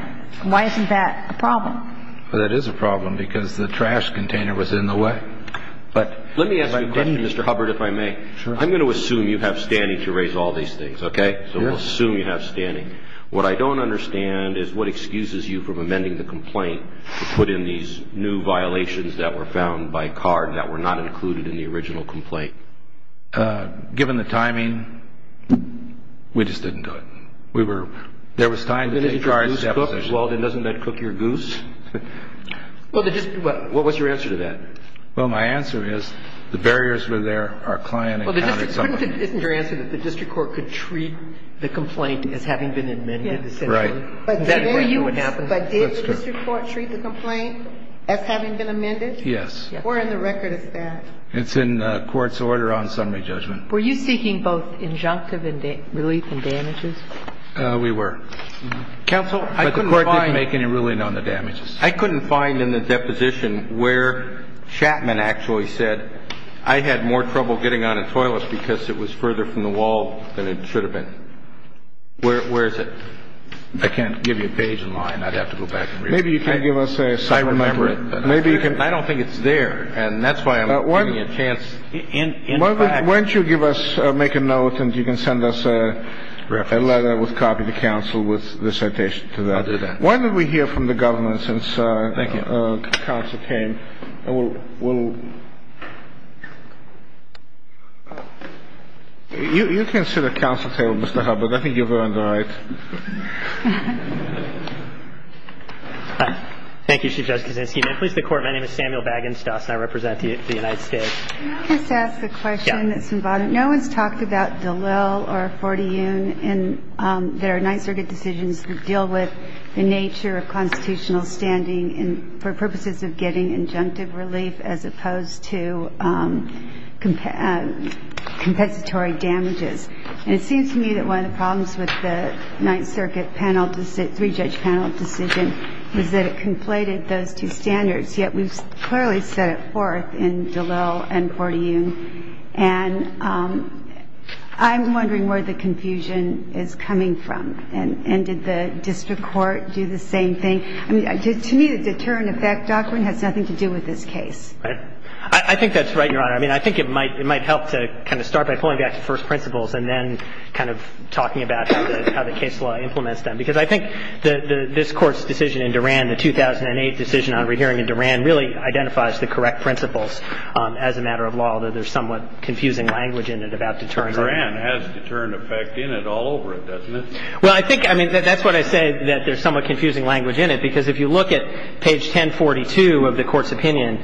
Why isn't that a problem? Well, that is a problem because the trash container was in the way. Let me ask you a question, Mr. Hubbard, if I may. I'm going to assume you have standing to raise all these things, okay? Yes. So we'll assume you have standing. What I don't understand is what excuses you from amending the complaint to put in these new violations that were found by card that were not included in the original complaint. Given the timing, we just didn't do it. There was time to take charge of the deposition. But you say if we take charge of a complaint, we take charge of it. If you take charge of it, you're making a charge. Well, then doesn't that cook your goose? Well, the district ‑‑ what was your answer to that? Well, my answer is the barriers were there, our client encountered some of them. Well, isn't your answer that the district court could treat the complaint as having been amended essentially? Yes. Right. But today you would say did the district court treat the complaint as having been amended? Yes. Where in the record is that? It's in court's order on summary judgment. Were you seeking both injunctive relief and damages? We were. Counsel, I couldn't find ‑‑ But the court didn't make any ruling on the damages. I couldn't find in the deposition where Chapman actually said, I had more trouble getting out of the toilet because it was further from the wall than it should have been. Where is it? I can't give you a page in line. I'd have to go back and read it. Maybe you can give us a ‑‑ I remember it. Maybe you can ‑‑ I don't think it's there. And that's why I'm giving you a chance in practice. Why don't you give us ‑‑ make a note and you can send us a letter with copy to counsel with the citation to that. I'll do that. Why don't we hear from the government since counsel came. Thank you. And we'll ‑‑ you can sit at counsel's table, Mr. Hubbard. I think you've earned the right. Thank you, Chief Justice Ginsburg. My name is Samuel Bagenstos, and I represent the United States. Can I just ask a question that's involved? Yeah. No one's talked about Dallel or Forteune in their Ninth Circuit decisions that deal with the nature of constitutional standing for purposes of getting injunctive relief as opposed to compensatory damages. And it seems to me that one of the problems with the Ninth Circuit panel ‑‑ three-judge panel decision is that it conflated those two standards, yet we've clearly set it forth in Dallel and Forteune. And I'm wondering where the confusion is coming from. And did the district court do the same thing? I mean, to me, the deterrent effect doctrine has nothing to do with this case. Right. I think that's right, Your Honor. I mean, I think it might help to kind of start by pulling back the first principles and then kind of talking about how the case law implements them, because I think this Court's decision in Duran, the 2008 decision on rehearing in Duran, really identifies the correct principles as a matter of law, although there's somewhat confusing language in it about deterrents. Duran has deterrent effect in it all over it, doesn't it? Well, I think ‑‑ I mean, that's what I say, that there's somewhat confusing language in it, because if you look at page 1042 of the Court's opinion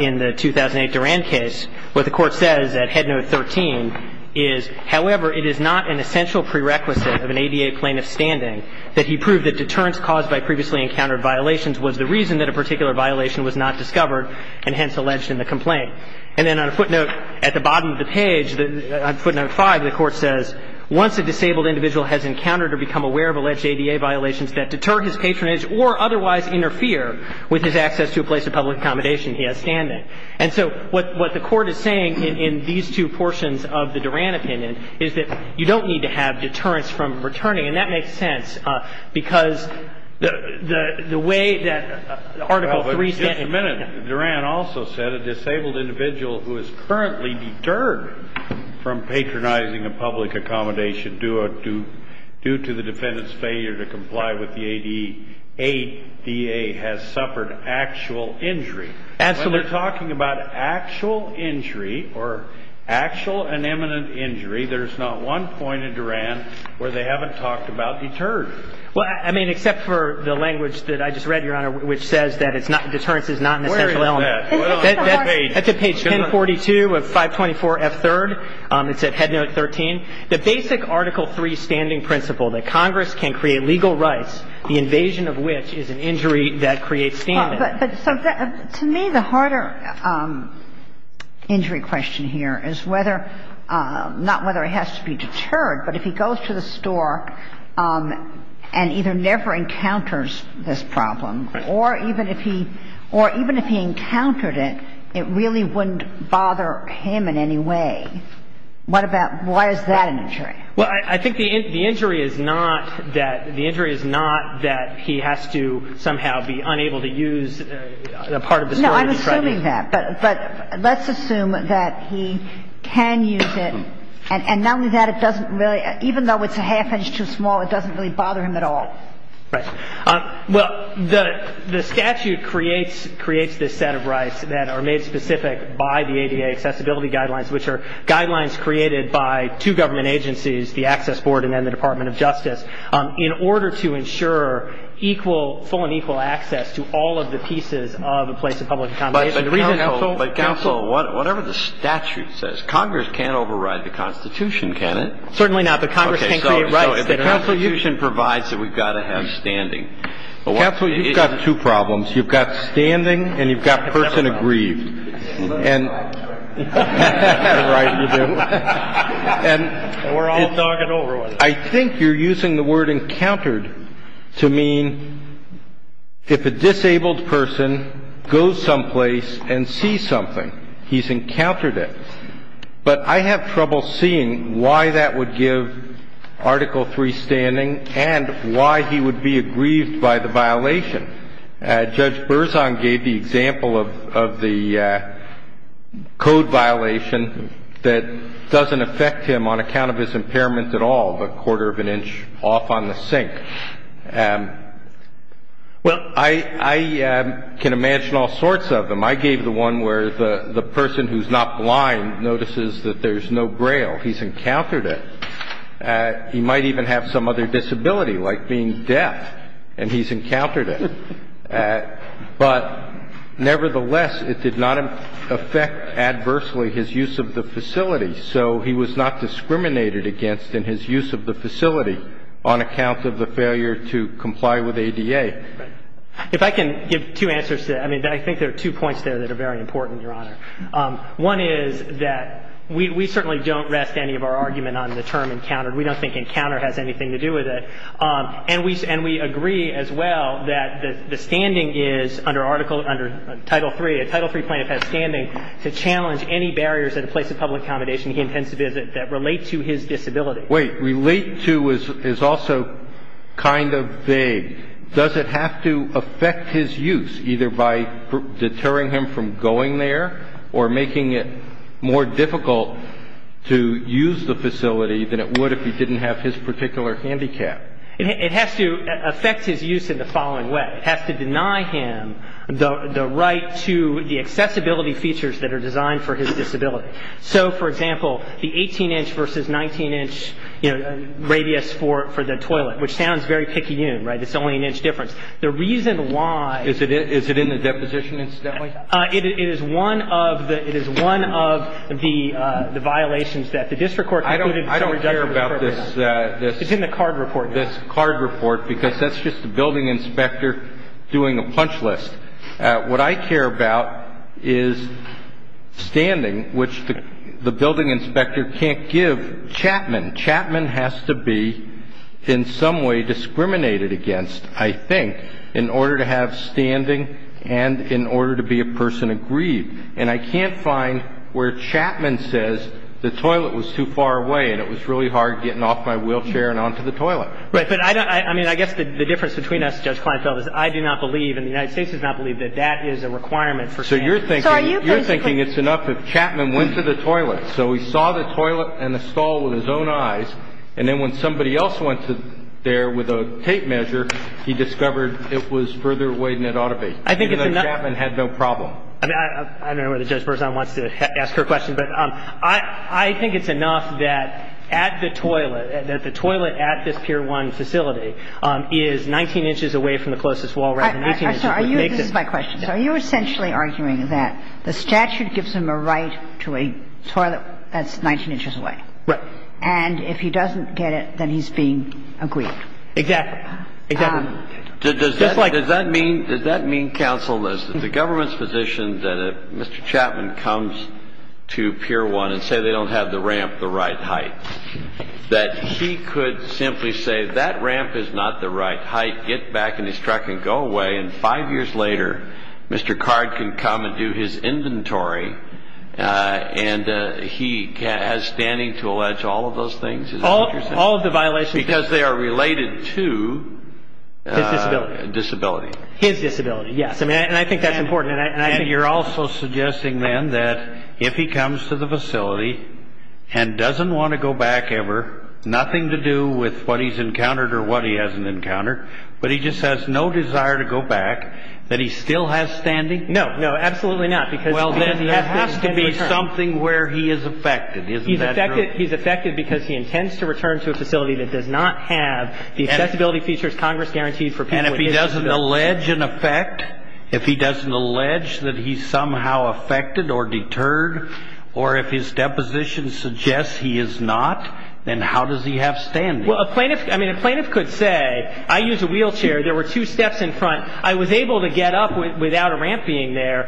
in the 2008 Duran case, what the Court says at head note 13 is, however, it is not an essential prerequisite of an ADA plaintiff's standing that he prove that deterrence caused by previously encountered violations was the reason that a particular violation was not discovered and hence alleged in the complaint. And then on a footnote at the bottom of the page, on footnote 5, the Court says, once a disabled individual has encountered or become aware of alleged ADA violations that deter his patronage or otherwise interfere with his access to a place of public accommodation, he has standing. And so what the Court is saying in these two portions of the Duran opinion is that you don't need to have deterrence from returning. And that makes sense, because the way that Article III ‑‑ Well, but just a minute. Duran also said a disabled individual who is currently deterred from patronizing a public accommodation due to the defendant's failure to comply with the ADA has suffered actual injury. Absolutely. So they're talking about actual injury or actual and imminent injury. There's not one point in Duran where they haven't talked about deterrence. Well, I mean, except for the language that I just read, Your Honor, which says that it's not ‑‑ deterrence is not an essential element. Where is that? That's at page 1042 of 524F3rd. It's at head note 13. The basic Article III standing principle that Congress can create legal rights, the invasion of which is an injury that creates standing. But to me, the harder injury question here is whether ‑‑ not whether it has to be deterred, but if he goes to the store and either never encounters this problem or even if he ‑‑ or even if he encountered it, it really wouldn't bother him in any way. What about ‑‑ why is that an injury? Well, I think the injury is not that ‑‑ the injury is not that he has to somehow be unable to use a part of the store to be threatened. No, I'm assuming that. But let's assume that he can use it. And not only that, it doesn't really ‑‑ even though it's a half inch too small, it doesn't really bother him at all. Right. Well, the statute creates this set of rights that are made specific by the ADA accessibility guidelines, which are guidelines created by two government agencies, the Access Board and then the Department of Justice, in order to ensure equal, full and equal access to all of the pieces of a place of public accommodation. But counsel, whatever the statute says, Congress can't override the Constitution, can it? Certainly not. But Congress can't create rights. Okay, so if the Constitution provides that we've got to have standing. Counsel, you've got two problems. You've got standing and you've got person aggrieved. And ‑‑ Right, you do. And we're all nogging over it. I think you're using the word encountered to mean if a disabled person goes someplace and sees something, he's encountered it. But I have trouble seeing why that would give Article III standing and why he would be aggrieved by the violation. Judge Berzon gave the example of the code violation that doesn't affect him on account of his impairment at all, the quarter of an inch off on the sink. Well, I can imagine all sorts of them. I gave the one where the person who's not blind notices that there's no Braille. He's encountered it. He might even have some other disability, like being deaf, and he's encountered it. But nevertheless, it did not affect adversely his use of the facility. So he was not discriminated against in his use of the facility on account of the failure to comply with ADA. If I can give two answers to that. I mean, I think there are two points there that are very important, Your Honor. One is that we certainly don't rest any of our argument on the term encountered. We don't think encounter has anything to do with it. And we agree as well that the standing is under Article III. A Title III plaintiff has standing to challenge any barriers at a place of public accommodation he intends to visit that relate to his disability. Wait. Relate to is also kind of vague. Does it have to affect his use, either by deterring him from going there or making it more difficult to use the facility than it would if he didn't have his particular handicap? It has to affect his use in the following way. It has to deny him the right to the accessibility features that are designed for his disability. So, for example, the 18-inch versus 19-inch radius for the toilet, which sounds very picayune, right? It's only an inch difference. The reason why- Is it in the deposition, incidentally? It is one of the violations that the district court concluded- I don't care about this- It's in the card report. This card report, because that's just the building inspector doing a punch list. What I care about is standing, which the building inspector can't give Chapman. Chapman has to be in some way discriminated against, I think, in order to have standing and in order to be a person aggrieved. And I can't find where Chapman says the toilet was too far away and it was really hard getting off my wheelchair and onto the toilet. Right. But I don't – I mean, I guess the difference between us, Judge Kleinfeld, is I do not believe and the United States does not believe that that is a requirement for Chapman. So you're thinking- So are you- Then the Court found that he did not have the size, and then when somebody else went there with a tape measure, he discovered it was further away than it ought to be. I think it's enough- Chapman had no problem. And I don't know whether Judge Berzon wants to ask her question, but I think it's enough that at the toilet, that the toilet at this Pier 1 facility is 19 inches away from the closest wall rather than 18 inches where it makes it. So are you – this is my question. Are you essentially arguing that the statute gives him a right to a toilet that's 19 inches away? Right. And if he doesn't get it, then he's being aggrieved. Exactly. Exactly. Does that mean, Counsel, that the government's position that if Mr. Chapman comes to Pier 1 and say they don't have the ramp the right height, that he could simply say that ramp is not the right height, get back in his truck and go away, and five years later Mr. Card can come and do his inventory and he has standing to allege all of those things? All of the violations- Because they are related to- His disability. Disability. His disability, yes. And I think that's important. And you're also suggesting then that if he comes to the facility and doesn't want to go back ever, nothing to do with what he's encountered or what he hasn't encountered, but he just has no desire to go back, that he still has standing? No. No, absolutely not. Well, then there has to be something where he is affected. Isn't that true? He's affected because he intends to return to a facility that does not have the accessibility features Congress guaranteed for people with disabilities. And if he doesn't allege an effect, if he doesn't allege that he's somehow affected or deterred, or if his deposition suggests he is not, then how does he have standing? Well, a plaintiff could say, I use a wheelchair. There were two steps in front. I was able to get up without a ramp being there.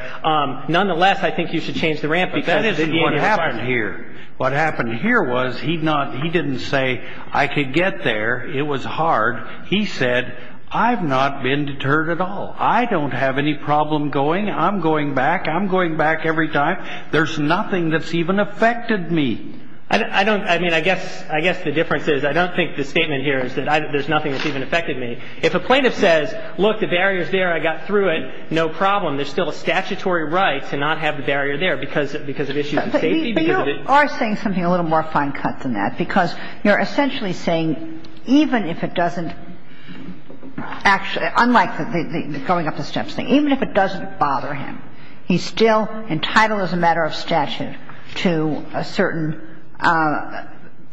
Nonetheless, I think you should change the ramp. But that isn't what happened here. What happened here was he didn't say, I could get there. It was hard. He said, I've not been deterred at all. I don't have any problem going. I'm going back. I'm going back every time. There's nothing that's even affected me. I don't – I mean, I guess – I guess the difference is I don't think the statement here is that there's nothing that's even affected me. If a plaintiff says, look, the barrier is there. I got through it. No problem. There's still a statutory right to not have the barrier there because of issues of safety. But you are saying something a little more fine cut than that because you're essentially saying even if it doesn't – unlike the going up the steps thing. He's still entitled as a matter of statute to a certain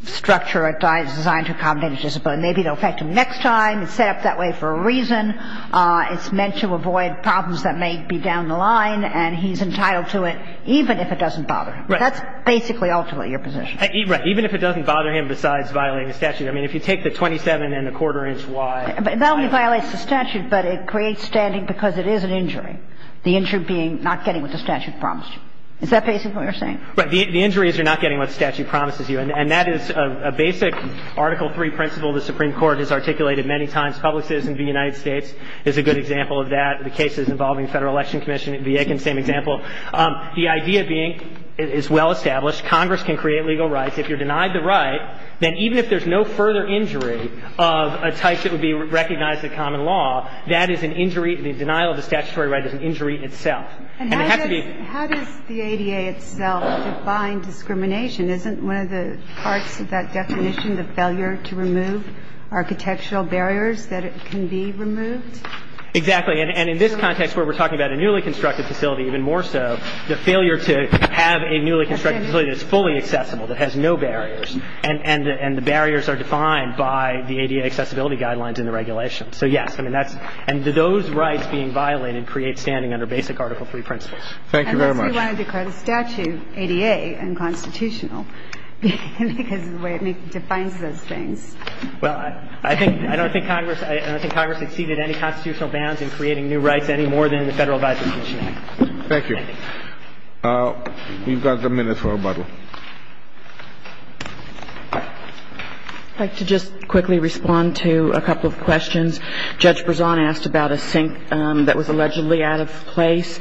structure designed to accommodate his disability. Maybe it will affect him next time. It's set up that way for a reason. It's meant to avoid problems that may be down the line. And he's entitled to it even if it doesn't bother him. Right. That's basically ultimately your position. Right. Even if it doesn't bother him besides violating the statute. I mean, if you take the 27 1⁄4 inch wide – That only violates the statute. But it creates standing because it is an injury. The injury being not getting what the statute promised you. Is that basically what you're saying? Right. The injury is you're not getting what the statute promises you. And that is a basic Article III principle the Supreme Court has articulated many times. Public Citizen v. United States is a good example of that. The cases involving Federal Election Commission v. Aiken, same example. The idea being, it's well established, Congress can create legal rights. If you're denied the right, then even if there's no further injury of a type that would be recognized in common law, that is an injury – the denial of the statutory right is an injury itself. And it has to be – And how does the ADA itself define discrimination? Isn't one of the parts of that definition the failure to remove architectural barriers that can be removed? Exactly. And in this context where we're talking about a newly constructed facility even more so, the failure to have a newly constructed facility that is fully accessible, that has no barriers, and the barriers are defined by the ADA accessibility guidelines and the regulations. So, yes, I mean, that's – and those rights being violated create standing under basic Article III principles. Thank you very much. Unless we want to decry the statute, ADA and constitutional, because of the way it defines those things. Well, I think – I don't think Congress – I don't think Congress exceeded any constitutional bounds in creating new rights any more than the Federal Advisory Commission Act. Thank you. Thank you. We've got a minute for rebuttal. I'd like to just quickly respond to a couple of questions. Judge Brezon asked about a sink that was allegedly out of place.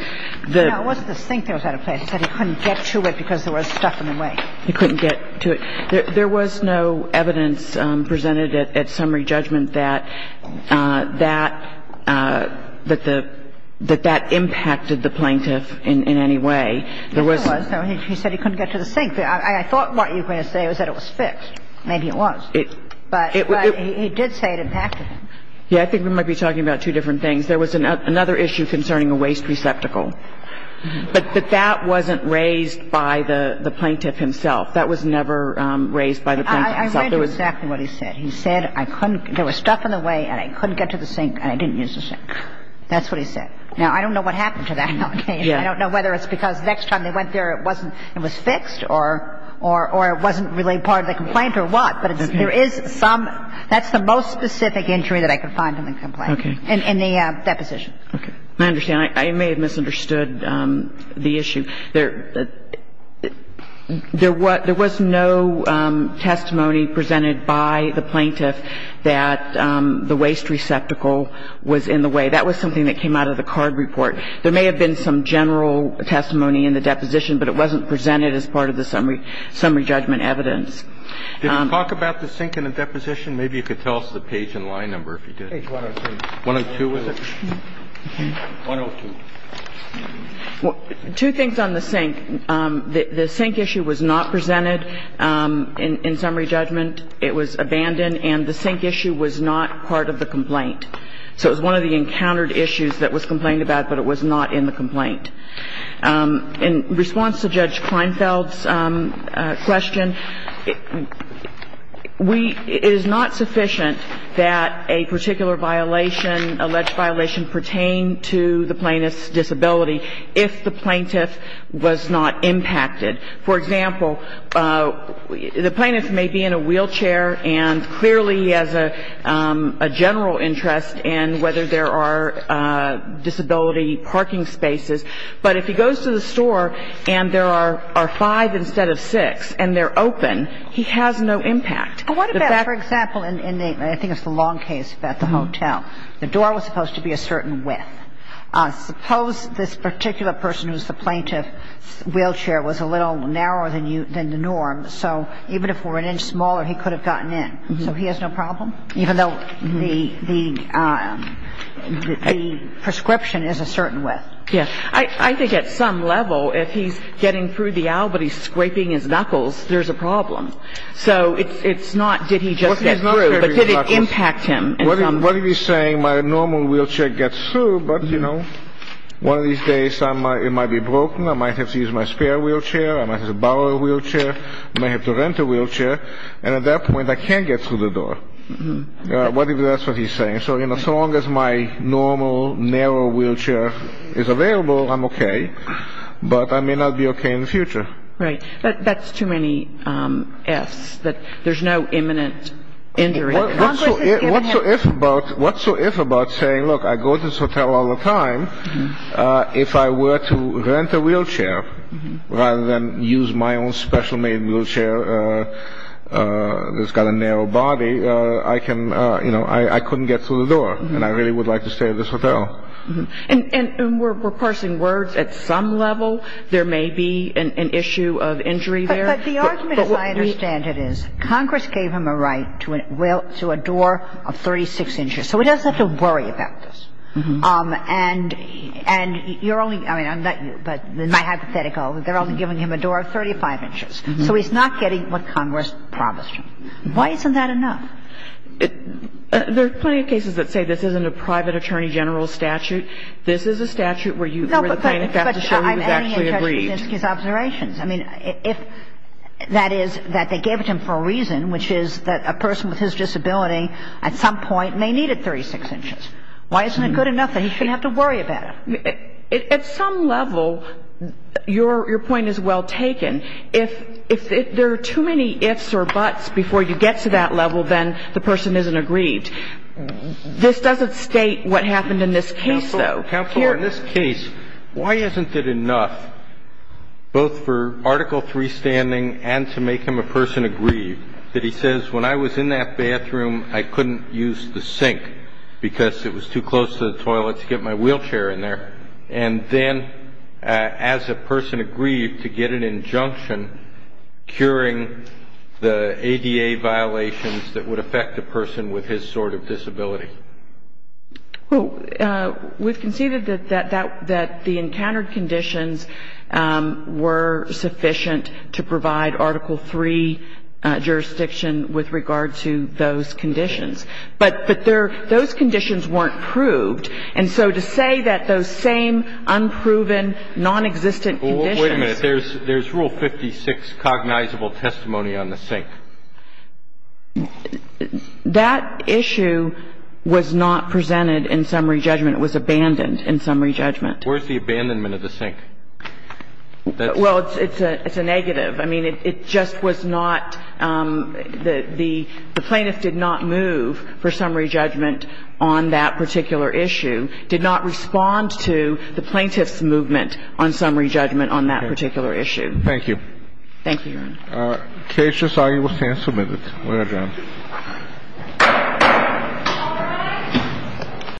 No, it wasn't a sink that was out of place. He said he couldn't get to it because there was stuff in the way. He couldn't get to it. There was no evidence presented at summary judgment that that – that the – that that impacted the plaintiff in any way. There was. There was. He said he couldn't get to the sink. I thought what you were going to say was that it was fixed. Maybe it was. But he did say it impacted him. Yeah, I think we might be talking about two different things. There was another issue concerning a waste receptacle. But that wasn't raised by the plaintiff himself. That was never raised by the plaintiff himself. I read exactly what he said. He said I couldn't – there was stuff in the way and I couldn't get to the sink and I didn't use the sink. That's what he said. Now, I don't know what happened to that. Okay. I don't know whether it's because the next time they went there, it wasn't – it was fixed or – or it wasn't really part of the complaint or what. But there is some – that's the most specific injury that I could find in the complaint. Okay. In the deposition. Okay. I understand. I may have misunderstood the issue. There – there was no testimony presented by the plaintiff that the waste receptacle was in the way. That was something that came out of the card report. There may have been some general testimony in the deposition, but it wasn't presented as part of the summary – summary judgment evidence. Did you talk about the sink in the deposition? Maybe you could tell us the page and line number if you did. Page 102. 102, was it? 102. Two things on the sink. The sink issue was not presented in summary judgment. It was abandoned. And the sink issue was not part of the complaint. So it was one of the encountered issues that was complained about, but it was not in the complaint. In response to Judge Kleinfeld's question, we – it is not sufficient that a particular violation, alleged violation, pertain to the plaintiff's disability if the plaintiff was not impacted. For example, the plaintiff may be in a wheelchair, and clearly he has a general interest in whether there are disability parking spaces. But if he goes to the store and there are five instead of six and they're open, he has no impact. But what about, for example, in the – I think it's the long case about the hotel. The door was supposed to be a certain width. Suppose this particular person who's the plaintiff's wheelchair was a little narrower than the norm. So even if it were an inch smaller, he could have gotten in. So he has no problem, even though the prescription is a certain width. Yes. I think at some level, if he's getting through the aisle but he's scraping his knuckles, there's a problem. So it's not did he just get through, but did it impact him in some way. What if he's saying my normal wheelchair gets through, but, you know, one of these days it might be broken. I might have to use my spare wheelchair. I might have to borrow a wheelchair. I might have to rent a wheelchair. And at that point, I can't get through the door. What if that's what he's saying? So, you know, so long as my normal, narrow wheelchair is available, I'm okay. But I may not be okay in the future. Right. That's too many ifs, that there's no imminent injury. What so if about saying, look, I go to this hotel all the time. If I were to rent a wheelchair rather than use my own special made wheelchair that's got a narrow body, I can, you know, I couldn't get through the door and I really would like to stay at this hotel. And we're parsing words. At some level, there may be an issue of injury there. But the argument, as I understand it, is Congress gave him a right to a door of 36 inches. So he doesn't have to worry about this. And you're only, I mean, my hypothetical, they're only giving him a door of 35 inches. So he's not getting what Congress promised him. Why isn't that enough? There are plenty of cases that say this isn't a private attorney general statute. This is a statute where the plaintiff has to show he's actually aggrieved. I mean, if that is that they gave it to him for a reason, which is that a person with his disability at some point may need a 36 inches. Why isn't it good enough that he shouldn't have to worry about it? At some level, your point is well taken. If there are too many ifs or buts before you get to that level, then the person isn't aggrieved. This doesn't state what happened in this case, though. Counsel, in this case, why isn't it enough both for Article III standing and to make him a person aggrieved that he says when I was in that bathroom, I couldn't use the sink because it was too close to the toilet to get my wheelchair in there, and then as a person aggrieved to get an injunction curing the ADA violations that would affect a person with his sort of disability? Well, we've conceded that that the encountered conditions were sufficient to provide Article III jurisdiction with regard to those conditions. But those conditions weren't proved. And so to say that those same unproven, nonexistent conditions. Well, wait a minute. There's Rule 56, cognizable testimony on the sink. That issue was not presented in summary judgment. It was abandoned in summary judgment. Where's the abandonment of the sink? Well, it's a negative. I mean, it just was not the plaintiff did not move for summary judgment on that particular issue, did not respond to the plaintiff's movement on summary judgment on that particular issue. Thank you. Thank you, Your Honor. The case is now in the stand for a minute. We're adjourned.